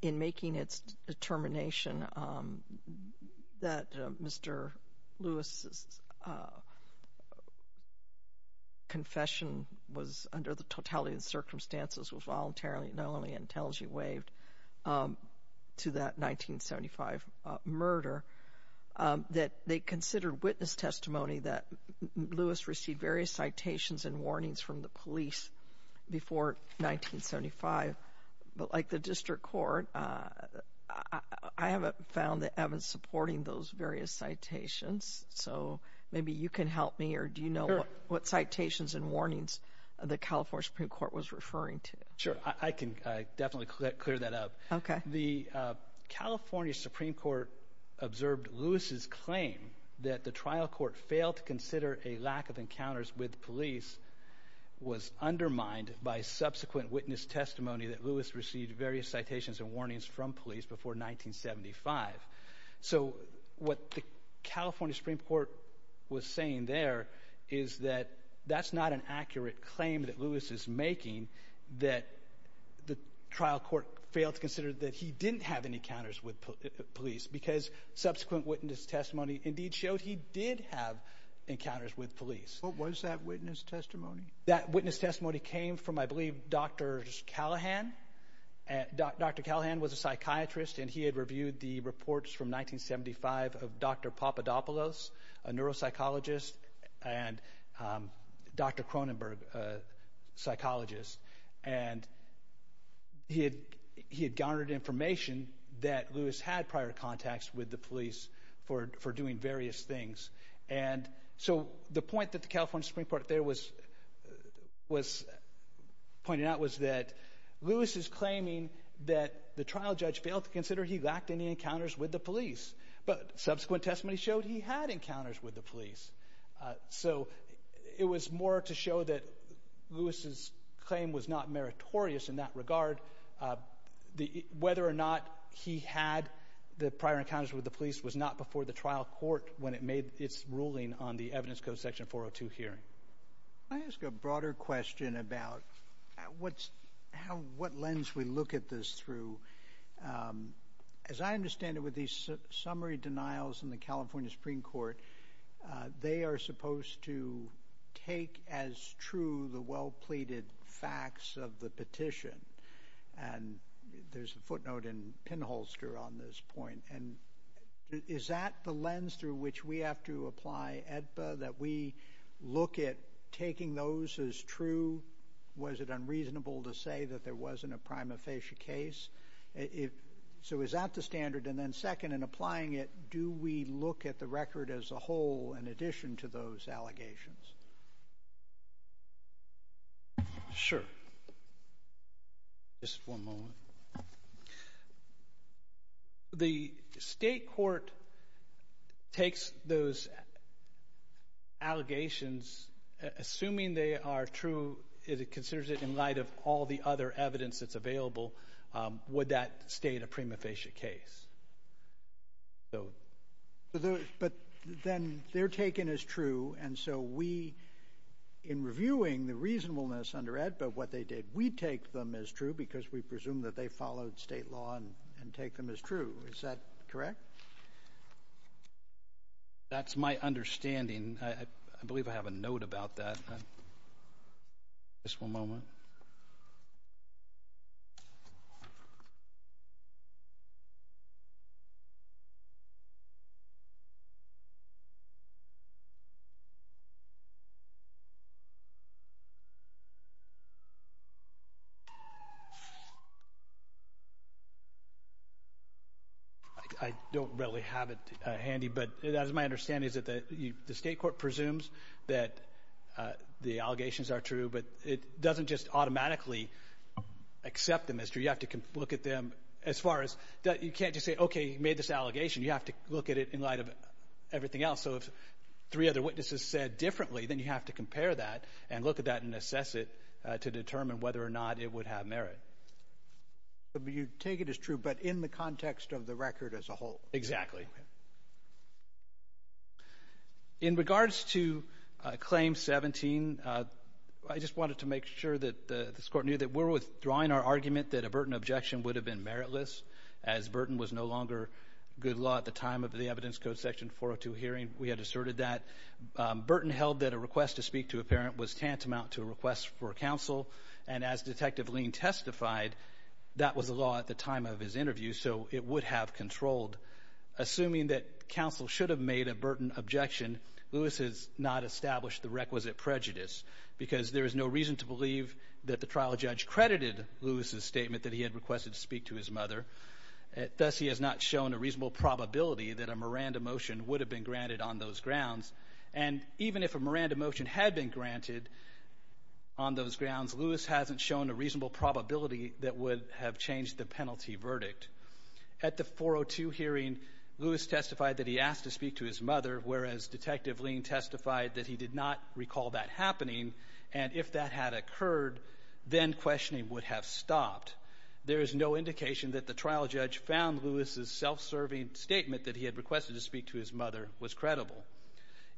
in making its determination that Mr. Lewis's confession was under the totality of the circumstances, was voluntarily not only intelligently waived to that 1975 murder, that they considered witness testimony that Lewis received various citations and warnings from the police before 1975. But like the district court, I haven't found that Evan's supporting those various citations. So maybe you can help me, or do you know what citations and warnings the California Supreme Court was referring to? Sure. I can definitely clear that up. The California Supreme Court observed Lewis's claim that the trial court failed to consider a lack of encounters with police was undermined by subsequent witness testimony that Lewis received various citations and warnings from police before 1975. So what the California Supreme Court was saying there is that that's not an accurate claim that Lewis is making, that the trial court failed to consider that he didn't have any encounters with police because subsequent witness testimony indeed showed he did have encounters with police. What was that witness testimony? That witness testimony came from, I believe, Dr. Callahan. Dr. Callahan was a psychiatrist, and he had reviewed the reports from 1975 of Dr. Papadopoulos, a neuropsychologist, and Dr. Cronenberg, a psychologist. And he had garnered information that Lewis had prior contacts with the police for doing various things. And so the point that the California Supreme Court there was pointing out was that Lewis is claiming that the trial judge failed to consider he lacked any encounters with the police, but subsequent testimony showed he had encounters with the police. So it was more to show that Lewis's claim was not meritorious in that regard. Whether or not he had the prior encounters with the police was not before the trial court when it made its ruling on the Evidence Code Section 402 hearing. Can I ask a broader question about what lens we look at this through? As I understand it, with these summary denials in the California Supreme Court, they are supposed to take as true the well-pleaded facts of the petition. And there's a footnote in Pinholster on this point. And is that the lens through which we have to apply AEDPA, that we look at taking those as true? Was it unreasonable to say that there wasn't a prima facie case? So is that the standard? And then second, in applying it, do we look at the record as a whole in addition to those allegations? Sure. Just one moment. The state court takes those allegations, assuming they are true, would that state a prima facie case? But then they're taken as true, and so we, in reviewing the reasonableness under AEDPA of what they did, we take them as true because we presume that they followed state law and take them as true. Is that correct? That's my understanding. I believe I have a note about that. Just one moment. I don't really have it handy. But that is my understanding, is that the state court presumes that the allegations are true, but it doesn't just automatically accept them as true. You have to look at them as far as you can't just say, okay, you made this allegation. You have to look at it in light of everything else. So if three other witnesses said differently, then you have to compare that and look at that and assess it to determine whether or not it would have merit. So you take it as true, but in the context of the record as a whole? Exactly. In regards to Claim 17, I just wanted to make sure that this Court knew that we're withdrawing our argument that a Burton objection would have been meritless, as Burton was no longer good law at the time of the Evidence Code Section 402 hearing. We had asserted that. Burton held that a request to speak to a parent was tantamount to a request for counsel, and as Detective Lean testified, that was the law at the time of his interview, so it would have controlled. Assuming that counsel should have made a Burton objection, Lewis has not established the requisite prejudice, because there is no reason to believe that the trial judge credited Lewis's statement that he had requested to speak to his mother. Thus, he has not shown a reasonable probability that a Miranda motion would have been granted on those grounds. And even if a Miranda motion had been granted on those grounds, Lewis hasn't shown a reasonable probability that would have changed the case. At the 402 hearing, Lewis testified that he asked to speak to his mother, whereas Detective Lean testified that he did not recall that happening, and if that had occurred, then questioning would have stopped. There is no indication that the trial judge found Lewis's self-serving statement that he had requested to speak to his mother was credible.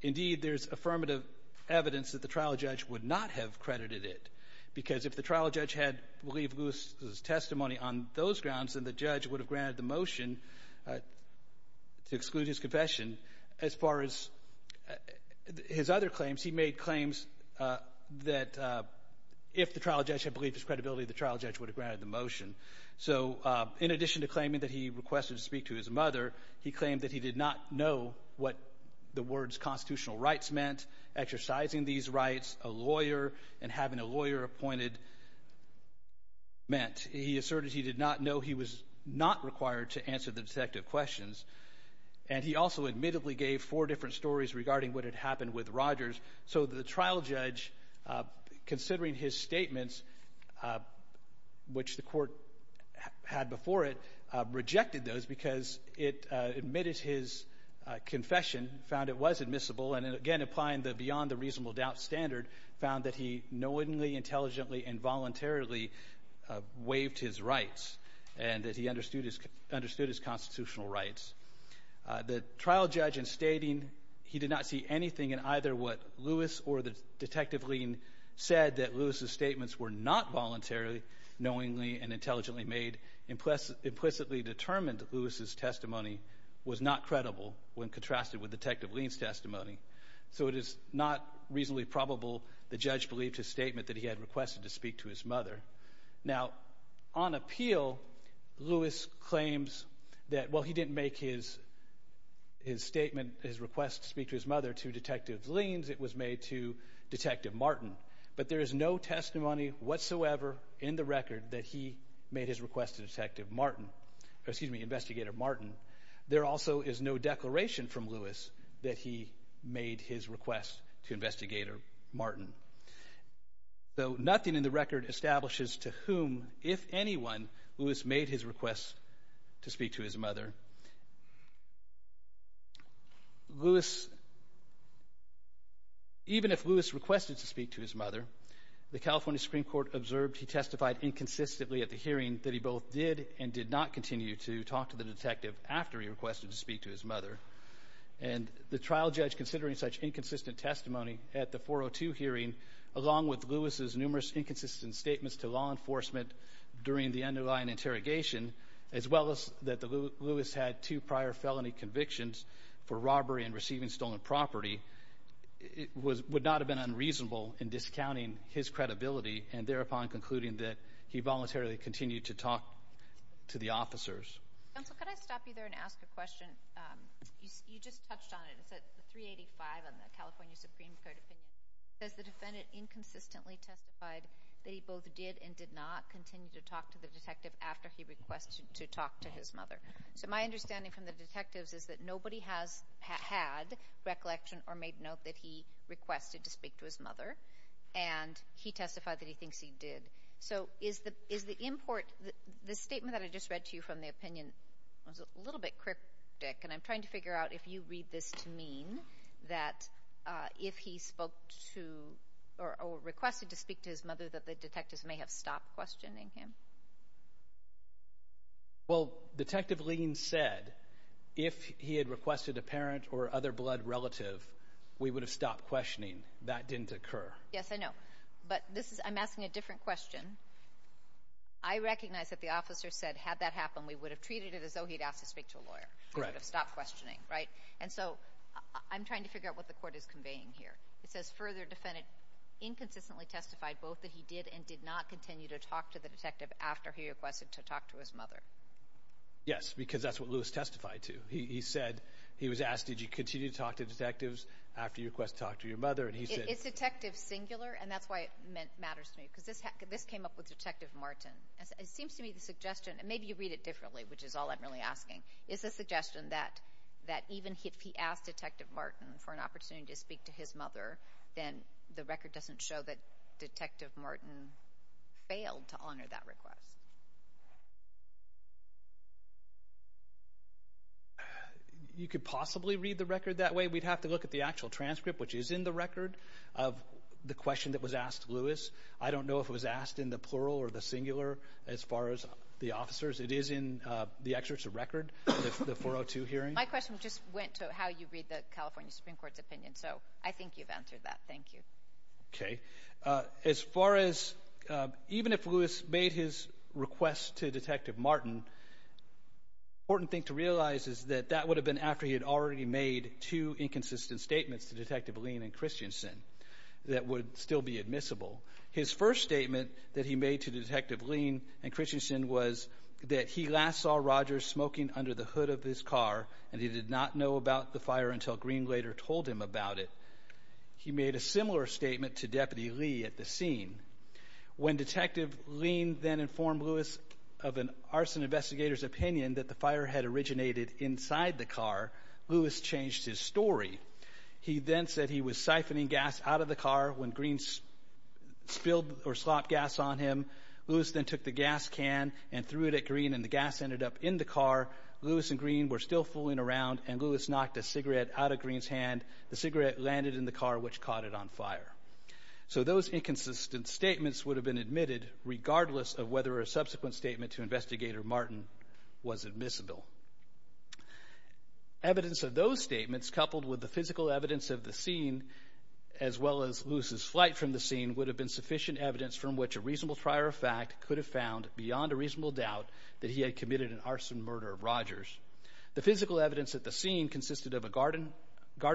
Indeed, there's affirmative evidence that the trial judge would not have credited it, because if the trial judge had believed Lewis's testimony on those grounds, then the judge would have granted the motion to exclude his confession. As far as his other claims, he made claims that if the trial judge had believed his credibility, the trial judge would have granted the motion. So in addition to claiming that he requested to speak to his mother, he claimed that he did not know what the words constitutional rights meant, exercising these rights, a lawyer, and having a lawyer appointed meant. He asserted he did not know he was not required to answer the detective questions, and he also admittedly gave four different stories regarding what had happened with Rogers. So the trial judge, considering his statements, which the court had before it, rejected those because it admitted his confession, found it was admissible, and again, applying the beyond the reasonable doubt standard, found that he knowingly, intelligently, and voluntarily waived his rights and that he understood his constitutional rights. The trial judge, in stating he did not see anything in either what Lewis or Detective Lean said that Lewis's statements were not voluntarily, knowingly, and intelligently made, implicitly determined Lewis's testimony was not credible when contrasted with Detective Lean's testimony. So it is not reasonably probable the judge believed his statement that he had requested to speak to his mother. Now, on appeal, Lewis claims that, well, he didn't make his statement, his request to speak to his mother to Detective Lean's. It was made to Detective Martin. But there is no testimony whatsoever in the record that he made his request to Detective Martin, excuse me, Investigator Martin. There also is no declaration from Lewis that he made his request to Investigator Martin. So nothing in the record establishes to whom, if anyone, Lewis made his request to speak to his mother. Lewis, even if Lewis requested to speak to his mother, the California Supreme Court observed he testified inconsistently at the hearing that he both did and did not continue to talk to the detective after he requested to speak to his mother. And the trial judge, considering such inconsistent testimony at the 402 hearing, along with Lewis's numerous inconsistent statements to law enforcement during the underlying interrogation, as well as that Lewis had two prior felony convictions for robbery and receiving stolen property, would not have been unreasonable in discounting his credibility and thereupon concluding that he voluntarily continued to talk to the officers. Counsel, could I stop you there and ask a question? You just touched on it. It's at 385 on the California Supreme Court opinion. It says the defendant inconsistently testified that he both did and did not continue to talk to the detective after he requested to talk to his mother. So my understanding from the detectives is that nobody has had recollection or made note that he requested to speak to his mother, and he testified that he thinks he did. So is the statement that I just read to you from the opinion a little bit cryptic? And I'm trying to figure out if you read this to mean that if he spoke to or requested to speak to his mother that the detectives may have stopped questioning him. Well, Detective Lean said if he had requested a parent or other blood relative, we would have stopped questioning. That didn't occur. Yes, I know. But I'm asking a different question. I recognize that the officer said had that happened, we would have treated it as though he had asked to speak to a lawyer. We would have stopped questioning, right? And so I'm trying to figure out what the court is conveying here. It says further defendant inconsistently testified both that he did and did not continue to talk to the detective after he requested to talk to his mother. Yes, because that's what Lewis testified to. He said he was asked, did you continue to talk to detectives after you requested to talk to your mother? It's detective singular, and that's why it matters to me because this came up with Detective Martin. It seems to me the suggestion, and maybe you read it differently, which is all I'm really asking, is the suggestion that even if he asked Detective Martin for an opportunity to speak to his mother, then the record doesn't show that Detective Martin failed to honor that request. You could possibly read the record that way. We'd have to look at the actual transcript, which is in the record, of the question that was asked to Lewis. I don't know if it was asked in the plural or the singular as far as the officers. It is in the excerpts of record, the 402 hearing. My question just went to how you read the California Supreme Court's opinion, so I think you've answered that. Thank you. Okay. As far as even if Lewis made his request to Detective Martin, the important thing to realize is that that would have been after he had already made two inconsistent statements to Detective Lean and Christensen that would still be admissible. His first statement that he made to Detective Lean and Christensen was that he last saw Rogers smoking under the hood of his car, and he did not know about the fire until Green later told him about it. He made a similar statement to Deputy Lee at the scene. When Detective Lean then informed Lewis of an arson investigator's opinion that the fire had originated inside the car, Lewis changed his story. He then said he was siphoning gas out of the car when Green spilled or slopped gas on him. Lewis then took the gas can and threw it at Green, and the gas ended up in the car. Lewis and Green were still fooling around, and Lewis knocked a cigarette out of Green's hand. The cigarette landed in the car, which caught it on fire. So those inconsistent statements would have been admitted regardless of whether a subsequent statement to Investigator Martin was admissible. Evidence of those statements coupled with the physical evidence of the scene, as well as Lewis's flight from the scene, would have been sufficient evidence from which a reasonable trier of fact could have found, beyond a reasonable doubt, that he had committed an arson murder of Rogers. The physical evidence at the scene consisted of garden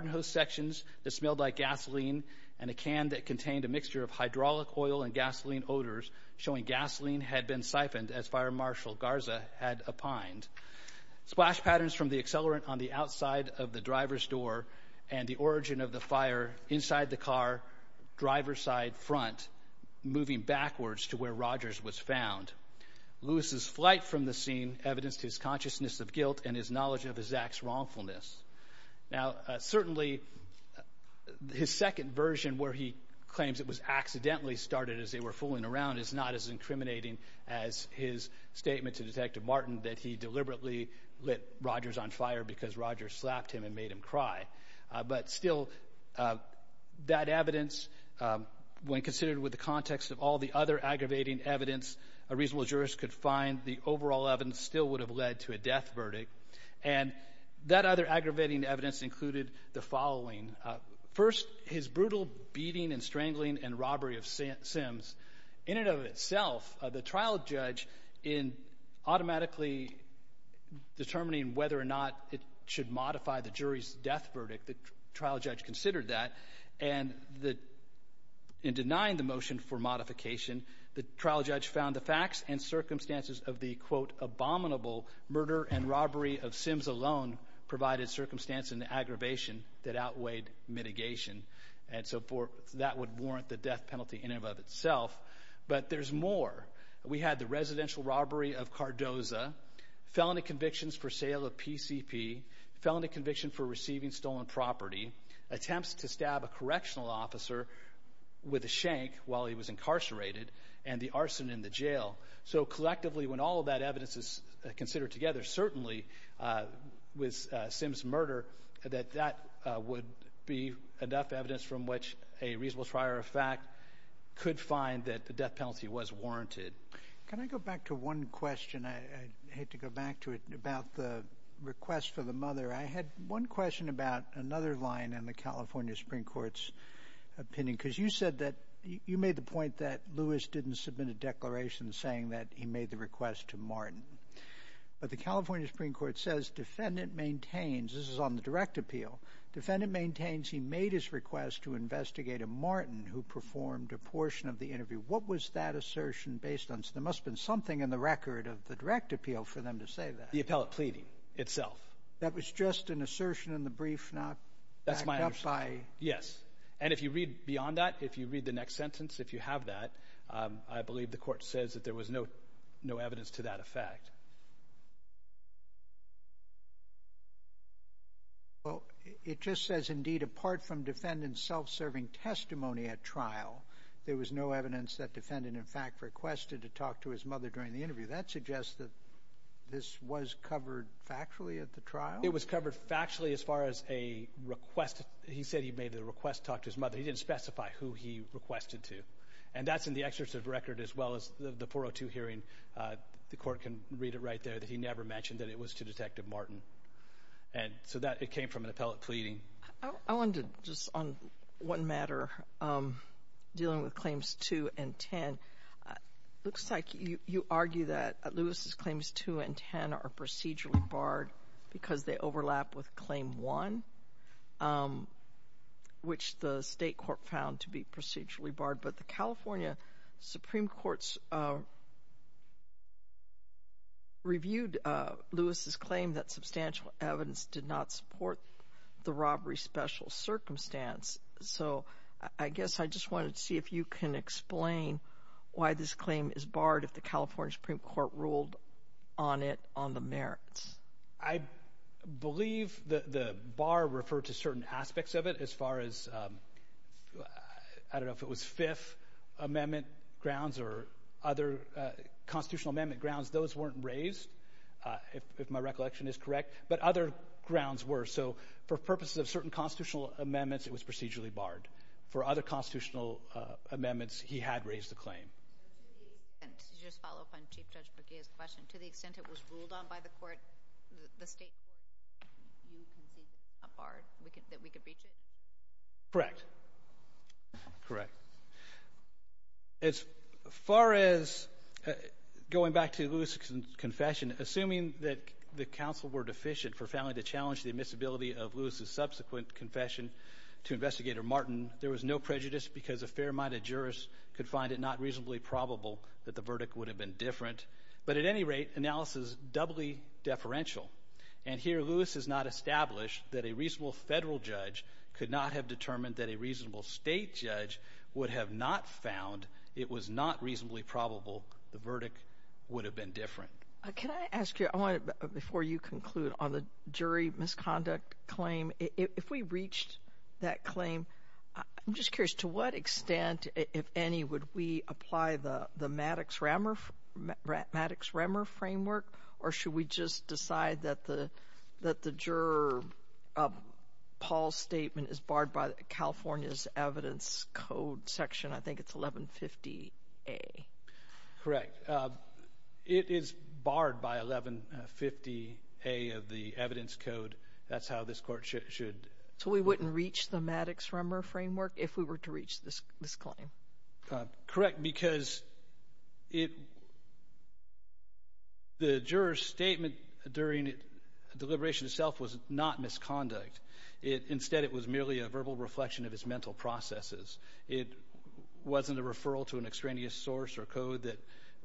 hose sections that smelled like gasoline and a can that contained a mixture of hydraulic oil and gasoline odors, showing gasoline had been siphoned as Fire Marshal Garza had opined. Splash patterns from the accelerant on the outside of the driver's door and the origin of the fire inside the car, driver's side, front, moving backwards to where Rogers was found. Lewis's flight from the scene evidenced his consciousness of guilt and his knowledge of his act's wrongfulness. Now, certainly, his second version, where he claims it was accidentally started as they were fooling around, is not as incriminating as his statement to Detective Martin that he deliberately lit Rogers on fire because Rogers slapped him and made him cry. But still, that evidence, when considered with the context of all the other aggravating evidence a reasonable jurist could find, the overall evidence still would have led to a death verdict. And that other aggravating evidence included the following. First, his brutal beating and strangling and robbery of Sims. In and of itself, the trial judge, in automatically determining whether or not it should modify the jury's death verdict, the trial judge considered that. And in denying the motion for modification, the trial judge found the facts and circumstances of the, quote, abominable murder and robbery of Sims alone provided circumstance in the aggravation that outweighed mitigation. And so that would warrant the death penalty in and of itself. But there's more. We had the residential robbery of Cardoza, felony convictions for sale of PCP, felony conviction for receiving stolen property, attempts to stab a correctional officer with a shank while he was incarcerated, and the arson in the jail. So collectively, when all of that evidence is considered together, certainly with Sims' murder, that that would be enough evidence from which a reasonable trier of fact could find that the death penalty was warranted. Can I go back to one question? I hate to go back to it about the request for the mother. I had one question about another line in the California Supreme Court's opinion because you said that you made the point that Lewis didn't submit a declaration saying that he made the request to Martin. But the California Supreme Court says defendant maintains, this is on the direct appeal, defendant maintains he made his request to investigate a Martin who performed a portion of the interview. What was that assertion based on? There must have been something in the record of the direct appeal for them to say that. The appellate pleading itself. That was just an assertion in the brief not backed up by... That's my understanding, yes. And if you read beyond that, if you read the next sentence, if you have that, I believe the court says that there was no evidence to that effect. Well, it just says, indeed, apart from defendant's self-serving testimony at trial, there was no evidence that defendant in fact requested to talk to his mother during the interview. That suggests that this was covered factually at the trial? It was covered factually as far as a request. He said he made the request to talk to his mother. He didn't specify who he requested to. And that's in the excerpt of the record as well as the 402 hearing. The court can read it right there that he never mentioned that it was to Detective Martin. And so that came from an appellate pleading. I wanted to, just on one matter, dealing with Claims 2 and 10. It looks like you argue that Lewis's Claims 2 and 10 are procedurally barred because they overlap with Claim 1, which the state court found to be procedurally barred, but the California Supreme Court reviewed Lewis's claim that substantial evidence did not support the robbery special circumstance. So I guess I just wanted to see if you can explain why this claim is barred if the California Supreme Court ruled on it on the merits. I believe the bar referred to certain aspects of it as far as, I don't know if it was Fifth Amendment grounds or other constitutional amendment grounds. Those weren't raised, if my recollection is correct, but other grounds were. So for purposes of certain constitutional amendments, it was procedurally barred. For other constitutional amendments, he had raised the claim. And to just follow up on Chief Judge McGeeh's question, to the extent it was ruled on by the court, the state court, you can think it's not barred, that we can breach it? Correct. Correct. As far as going back to Lewis's confession, assuming that the counsel were deficient for failing to challenge the admissibility of Lewis's subsequent confession to Investigator Martin, there was no prejudice because a fair-minded jurist could find it not reasonably probable that the verdict would have been different. But at any rate, analysis is doubly deferential. And here Lewis has not established that a reasonable federal judge could not have determined that a reasonable state judge would have not found it was not reasonably probable the verdict would have been different. Can I ask you, before you conclude, on the jury misconduct claim, if we reached that claim, I'm just curious, to what extent, if any, would we apply the Maddox-Rahmer framework, or should we just decide that the juror Paul's statement is barred by California's evidence code section, I think it's 1150A? Correct. It is barred by 1150A of the evidence code. That's how this court should... So we wouldn't reach the Maddox-Rahmer framework if we were to reach this claim. Correct, because the juror's statement during deliberation itself was not misconduct. Instead, it was merely a verbal reflection of his mental processes. It wasn't a referral to an extraneous source or code that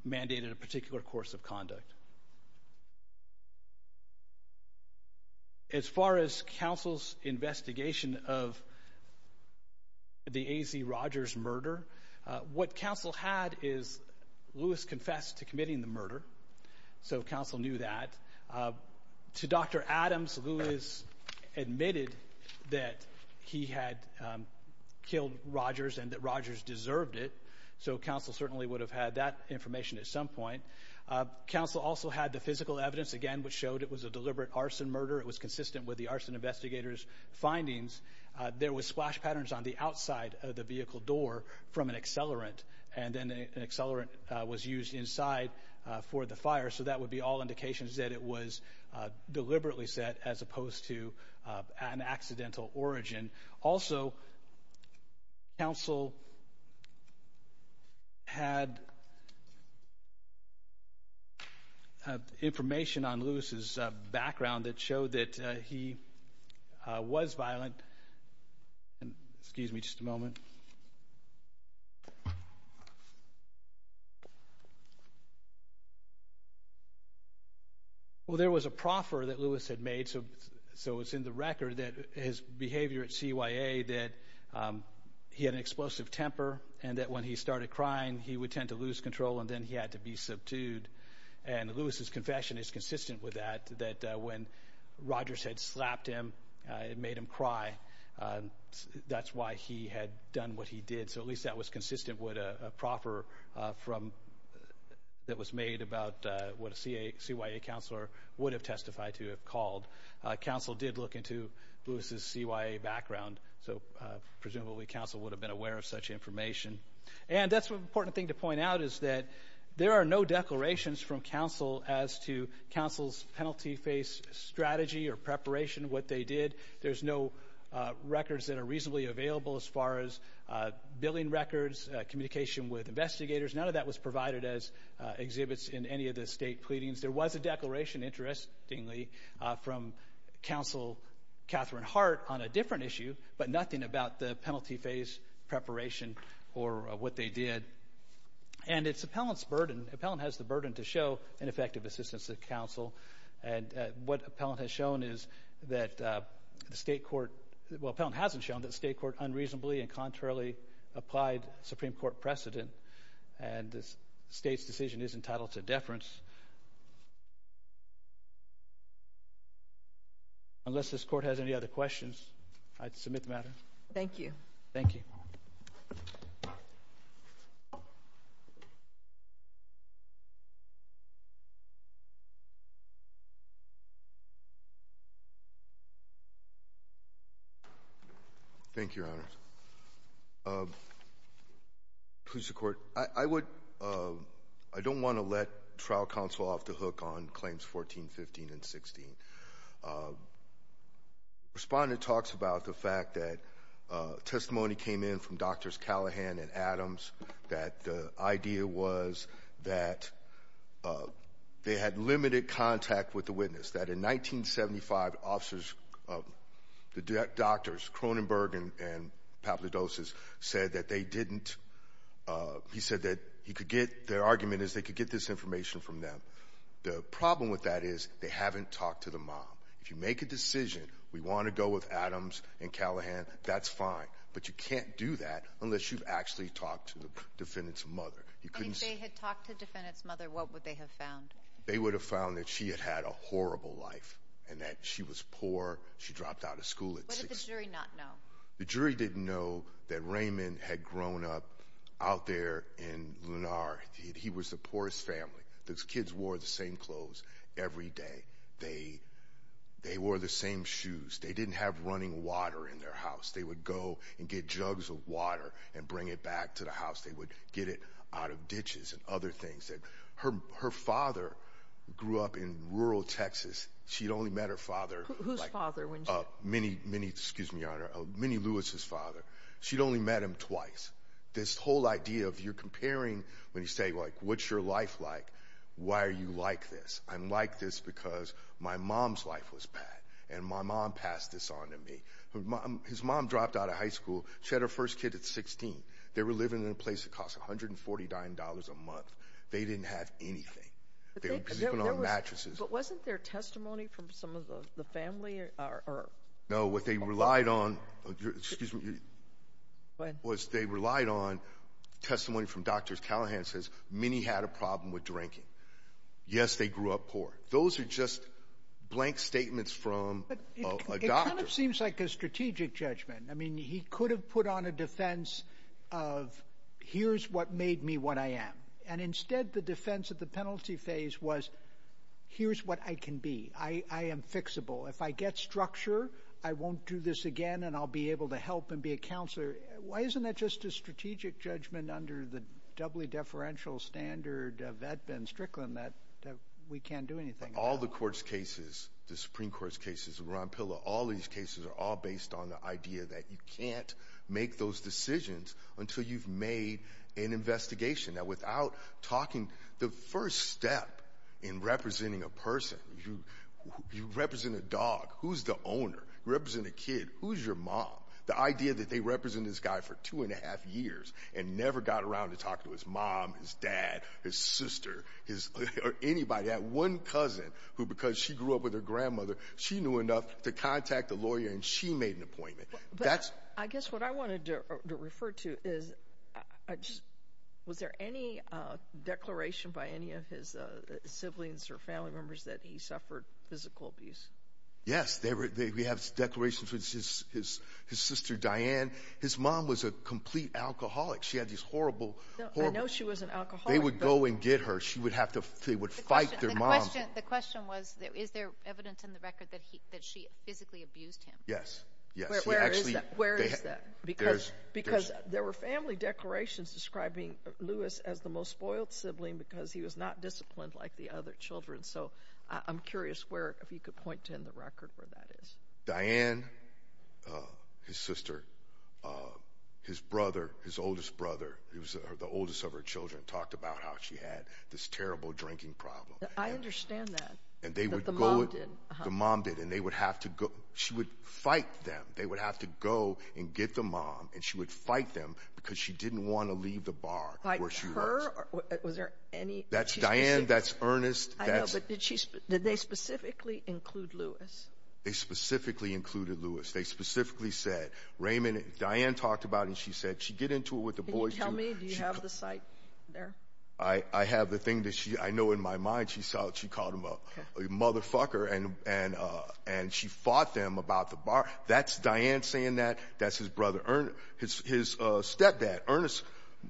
mandated a particular course of conduct. As far as counsel's investigation of the A.Z. Rogers murder, what counsel had is Lewis confessed to committing the murder, so counsel knew that. To Dr. Adams, Lewis admitted that he had killed Rogers and that Rogers deserved it, so counsel certainly would have had that information at some point. Counsel also had the physical evidence, again, which showed it was a deliberate arson murder. It was consistent with the arson investigator's findings. There were splash patterns on the outside of the vehicle door from an accelerant, and then an accelerant was used inside for the fire, so that would be all indications that it was deliberately set as opposed to an accidental origin. Also, counsel had information on Lewis's background that showed that he was violent. Excuse me just a moment. Well, there was a proffer that Lewis had made, so it's in the record that his behavior at CYA, that he had an explosive temper and that when he started crying, he would tend to lose control, and then he had to be subdued, and Lewis's confession is consistent with that, that when Rogers had slapped him and made him cry, that's why he had done what he did, so at least that was consistent with a proffer that was made about what a CYA counselor would have testified to have called. Counsel did look into Lewis's CYA background, so presumably counsel would have been aware of such information, and that's an important thing to point out is that there are no declarations from counsel as to counsel's penalty phase strategy or preparation of what they did. There's no records that are reasonably available as far as billing records, communication with investigators. None of that was provided as exhibits in any of the state pleadings. There was a declaration, interestingly, from counsel Catherine Hart on a different issue, but nothing about the penalty phase preparation or what they did, and it's appellant's burden. Appellant has the burden to show ineffective assistance to counsel, and what appellant has shown is that the state court, well, appellant hasn't shown that the state court unreasonably and contrarily applied Supreme Court precedent, and the state's decision is entitled to deference. Unless this court has any other questions, I'd submit the matter. Thank you. Thank you. Thank you, Your Honor. Please, the Court. I don't want to let trial counsel off the hook on claims 14, 15, and 16. Respondent talks about the fact that testimony came in from Drs. Callahan and Adams, that the idea was that they had limited contact with the witness, that in 1975, officers, the doctors, Cronenberg and Papadopoulos, said that they didn't, he said that he could get, their argument is they could get this information from them. The problem with that is they haven't talked to the mom. If you make a decision, we want to go with Adams and Callahan, that's fine, but you can't do that unless you've actually talked to the defendant's mother. If they had talked to the defendant's mother, what would they have found? They would have found that she had had a horrible life and that she was poor. She dropped out of school at 16. What did the jury not know? The jury didn't know that Raymond had grown up out there in Lunar. He was the poorest family. Those kids wore the same clothes every day. They wore the same shoes. They didn't have running water in their house. They would go and get jugs of water and bring it back to the house. They would get it out of ditches and other things. Her father grew up in rural Texas. She'd only met her father. Whose father? Minnie Lewis's father. She'd only met him twice. This whole idea of you're comparing when you say, like, what's your life like? Why are you like this? I'm like this because my mom's life was bad, and my mom passed this on to me. His mom dropped out of high school. She had her first kid at 16. They were living in a place that cost $149 a month. They didn't have anything. They were sleeping on mattresses. But wasn't there testimony from some of the family? No, what they relied on was they relied on testimony from doctors. Callahan says, Minnie had a problem with drinking. Yes, they grew up poor. Those are just blank statements from a doctor. It kind of seems like a strategic judgment. I mean, he could have put on a defense of, here's what made me what I am. And instead, the defense of the penalty phase was, here's what I can be. I am fixable. If I get structure, I won't do this again, and I'll be able to help and be a counselor. Why isn't that just a strategic judgment under the doubly deferential standard of Edmund Strickland that we can't do anything? All the court's cases, the Supreme Court's cases, Ron Pilla, all these cases are all based on the idea that you can't make those decisions until you've made an investigation. That without talking, the first step in representing a person, you represent a dog. Who's the owner? You represent a kid. Who's your mom? The idea that they represented this guy for two and a half years and never got around to talk to his mom, his dad, his sister, or anybody. They had one cousin who, because she grew up with her grandmother, she knew enough to contact the lawyer, and she made an appointment. I guess what I wanted to refer to is was there any declaration by any of his siblings or family members that he suffered physical abuse? Yes. We have declarations with his sister Diane. His mom was a complete alcoholic. She had these horrible, horrible— I know she was an alcoholic. They would go and get her. They would fight their mom. The question was is there evidence in the record that she physically abused him? Yes. Where is that? Because there were family declarations describing Lewis as the most spoiled sibling because he was not disciplined like the other children. So I'm curious if you could point to in the record where that is. Diane, his sister, his brother, his oldest brother, he was the oldest of her children, talked about how she had this terrible drinking problem. I understand that, that the mom did. The mom did, and they would have to go—she would fight them. They would have to go and get the mom, and she would fight them because she didn't want to leave the bar where she was. Fight her? Was there any— That's Diane. That's Ernest. I know, but did they specifically include Lewis? They specifically included Lewis. They specifically said Raymond—Diane talked about it, and she said she'd get into it with the boys. Can you tell me? Do you have the site there? I have the thing that I know in my mind. She called him a motherfucker, and she fought them about the bar. That's Diane saying that. That's his stepdad, Ernest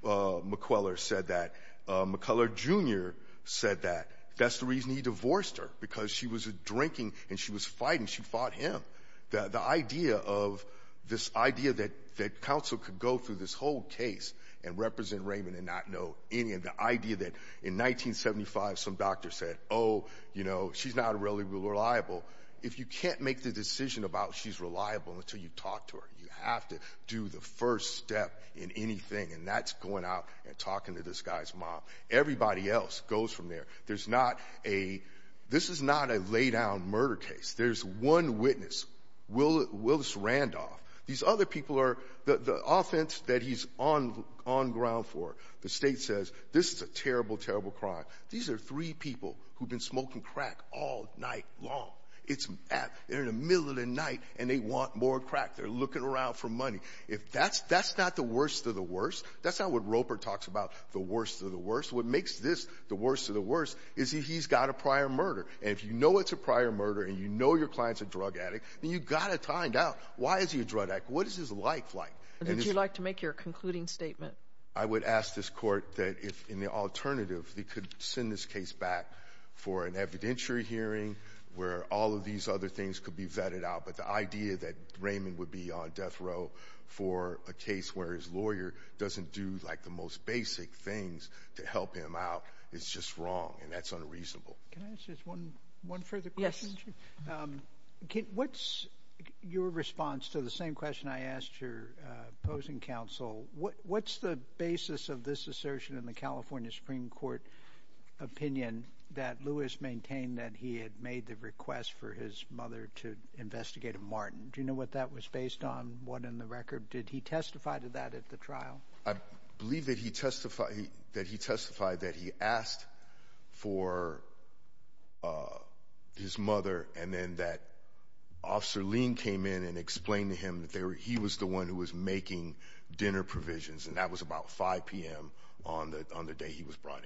McCuller, said that. McCuller Jr. said that. That's the reason he divorced her because she was drinking, and she was fighting. She fought him. The idea of this idea that counsel could go through this whole case and represent Raymond and not know any of the idea that in 1975 some doctor said, oh, you know, she's not really reliable. If you can't make the decision about she's reliable until you talk to her, you have to do the first step in anything, and that's going out and talking to this guy's mom. Everybody else goes from there. There's not a—this is not a laydown murder case. There's one witness, Willis Randolph. These other people are the offense that he's on ground for. The state says this is a terrible, terrible crime. These are three people who've been smoking crack all night long. They're in the middle of the night, and they want more crack. They're looking around for money. That's not the worst of the worst. That's not what Roper talks about, the worst of the worst. What makes this the worst of the worst is that he's got a prior murder, and if you know it's a prior murder and you know your client's a drug addict, then you've got to find out, why is he a drug addict? What is his life like? Would you like to make your concluding statement? I would ask this Court that if, in the alternative, they could send this case back for an evidentiary hearing where all of these other things could be vetted out, but the idea that Raymond would be on death row for a case where his lawyer doesn't do, like, the most basic things to help him out is just wrong, and that's unreasonable. Can I ask just one further question? Yes. What's your response to the same question I asked your opposing counsel? What's the basis of this assertion in the California Supreme Court opinion that Lewis maintained that he had made the request for his mother to investigate a Martin? Do you know what that was based on, what in the record? Did he testify to that at the trial? I believe that he testified that he asked for his mother, and then that Officer Lean came in and explained to him that he was the one who was making dinner provisions, and that was about 5 p.m. on the day he was brought in.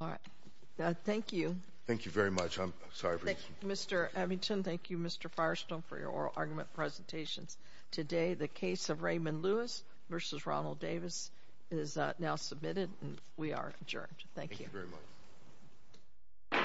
All right. Thank you. Thank you very much. I'm sorry for you. Mr. Abbington, thank you, Mr. Firestone, for your oral argument presentations. Today the case of Raymond Lewis v. Ronald Davis is now submitted, and we are adjourned. Thank you. Thank you very much.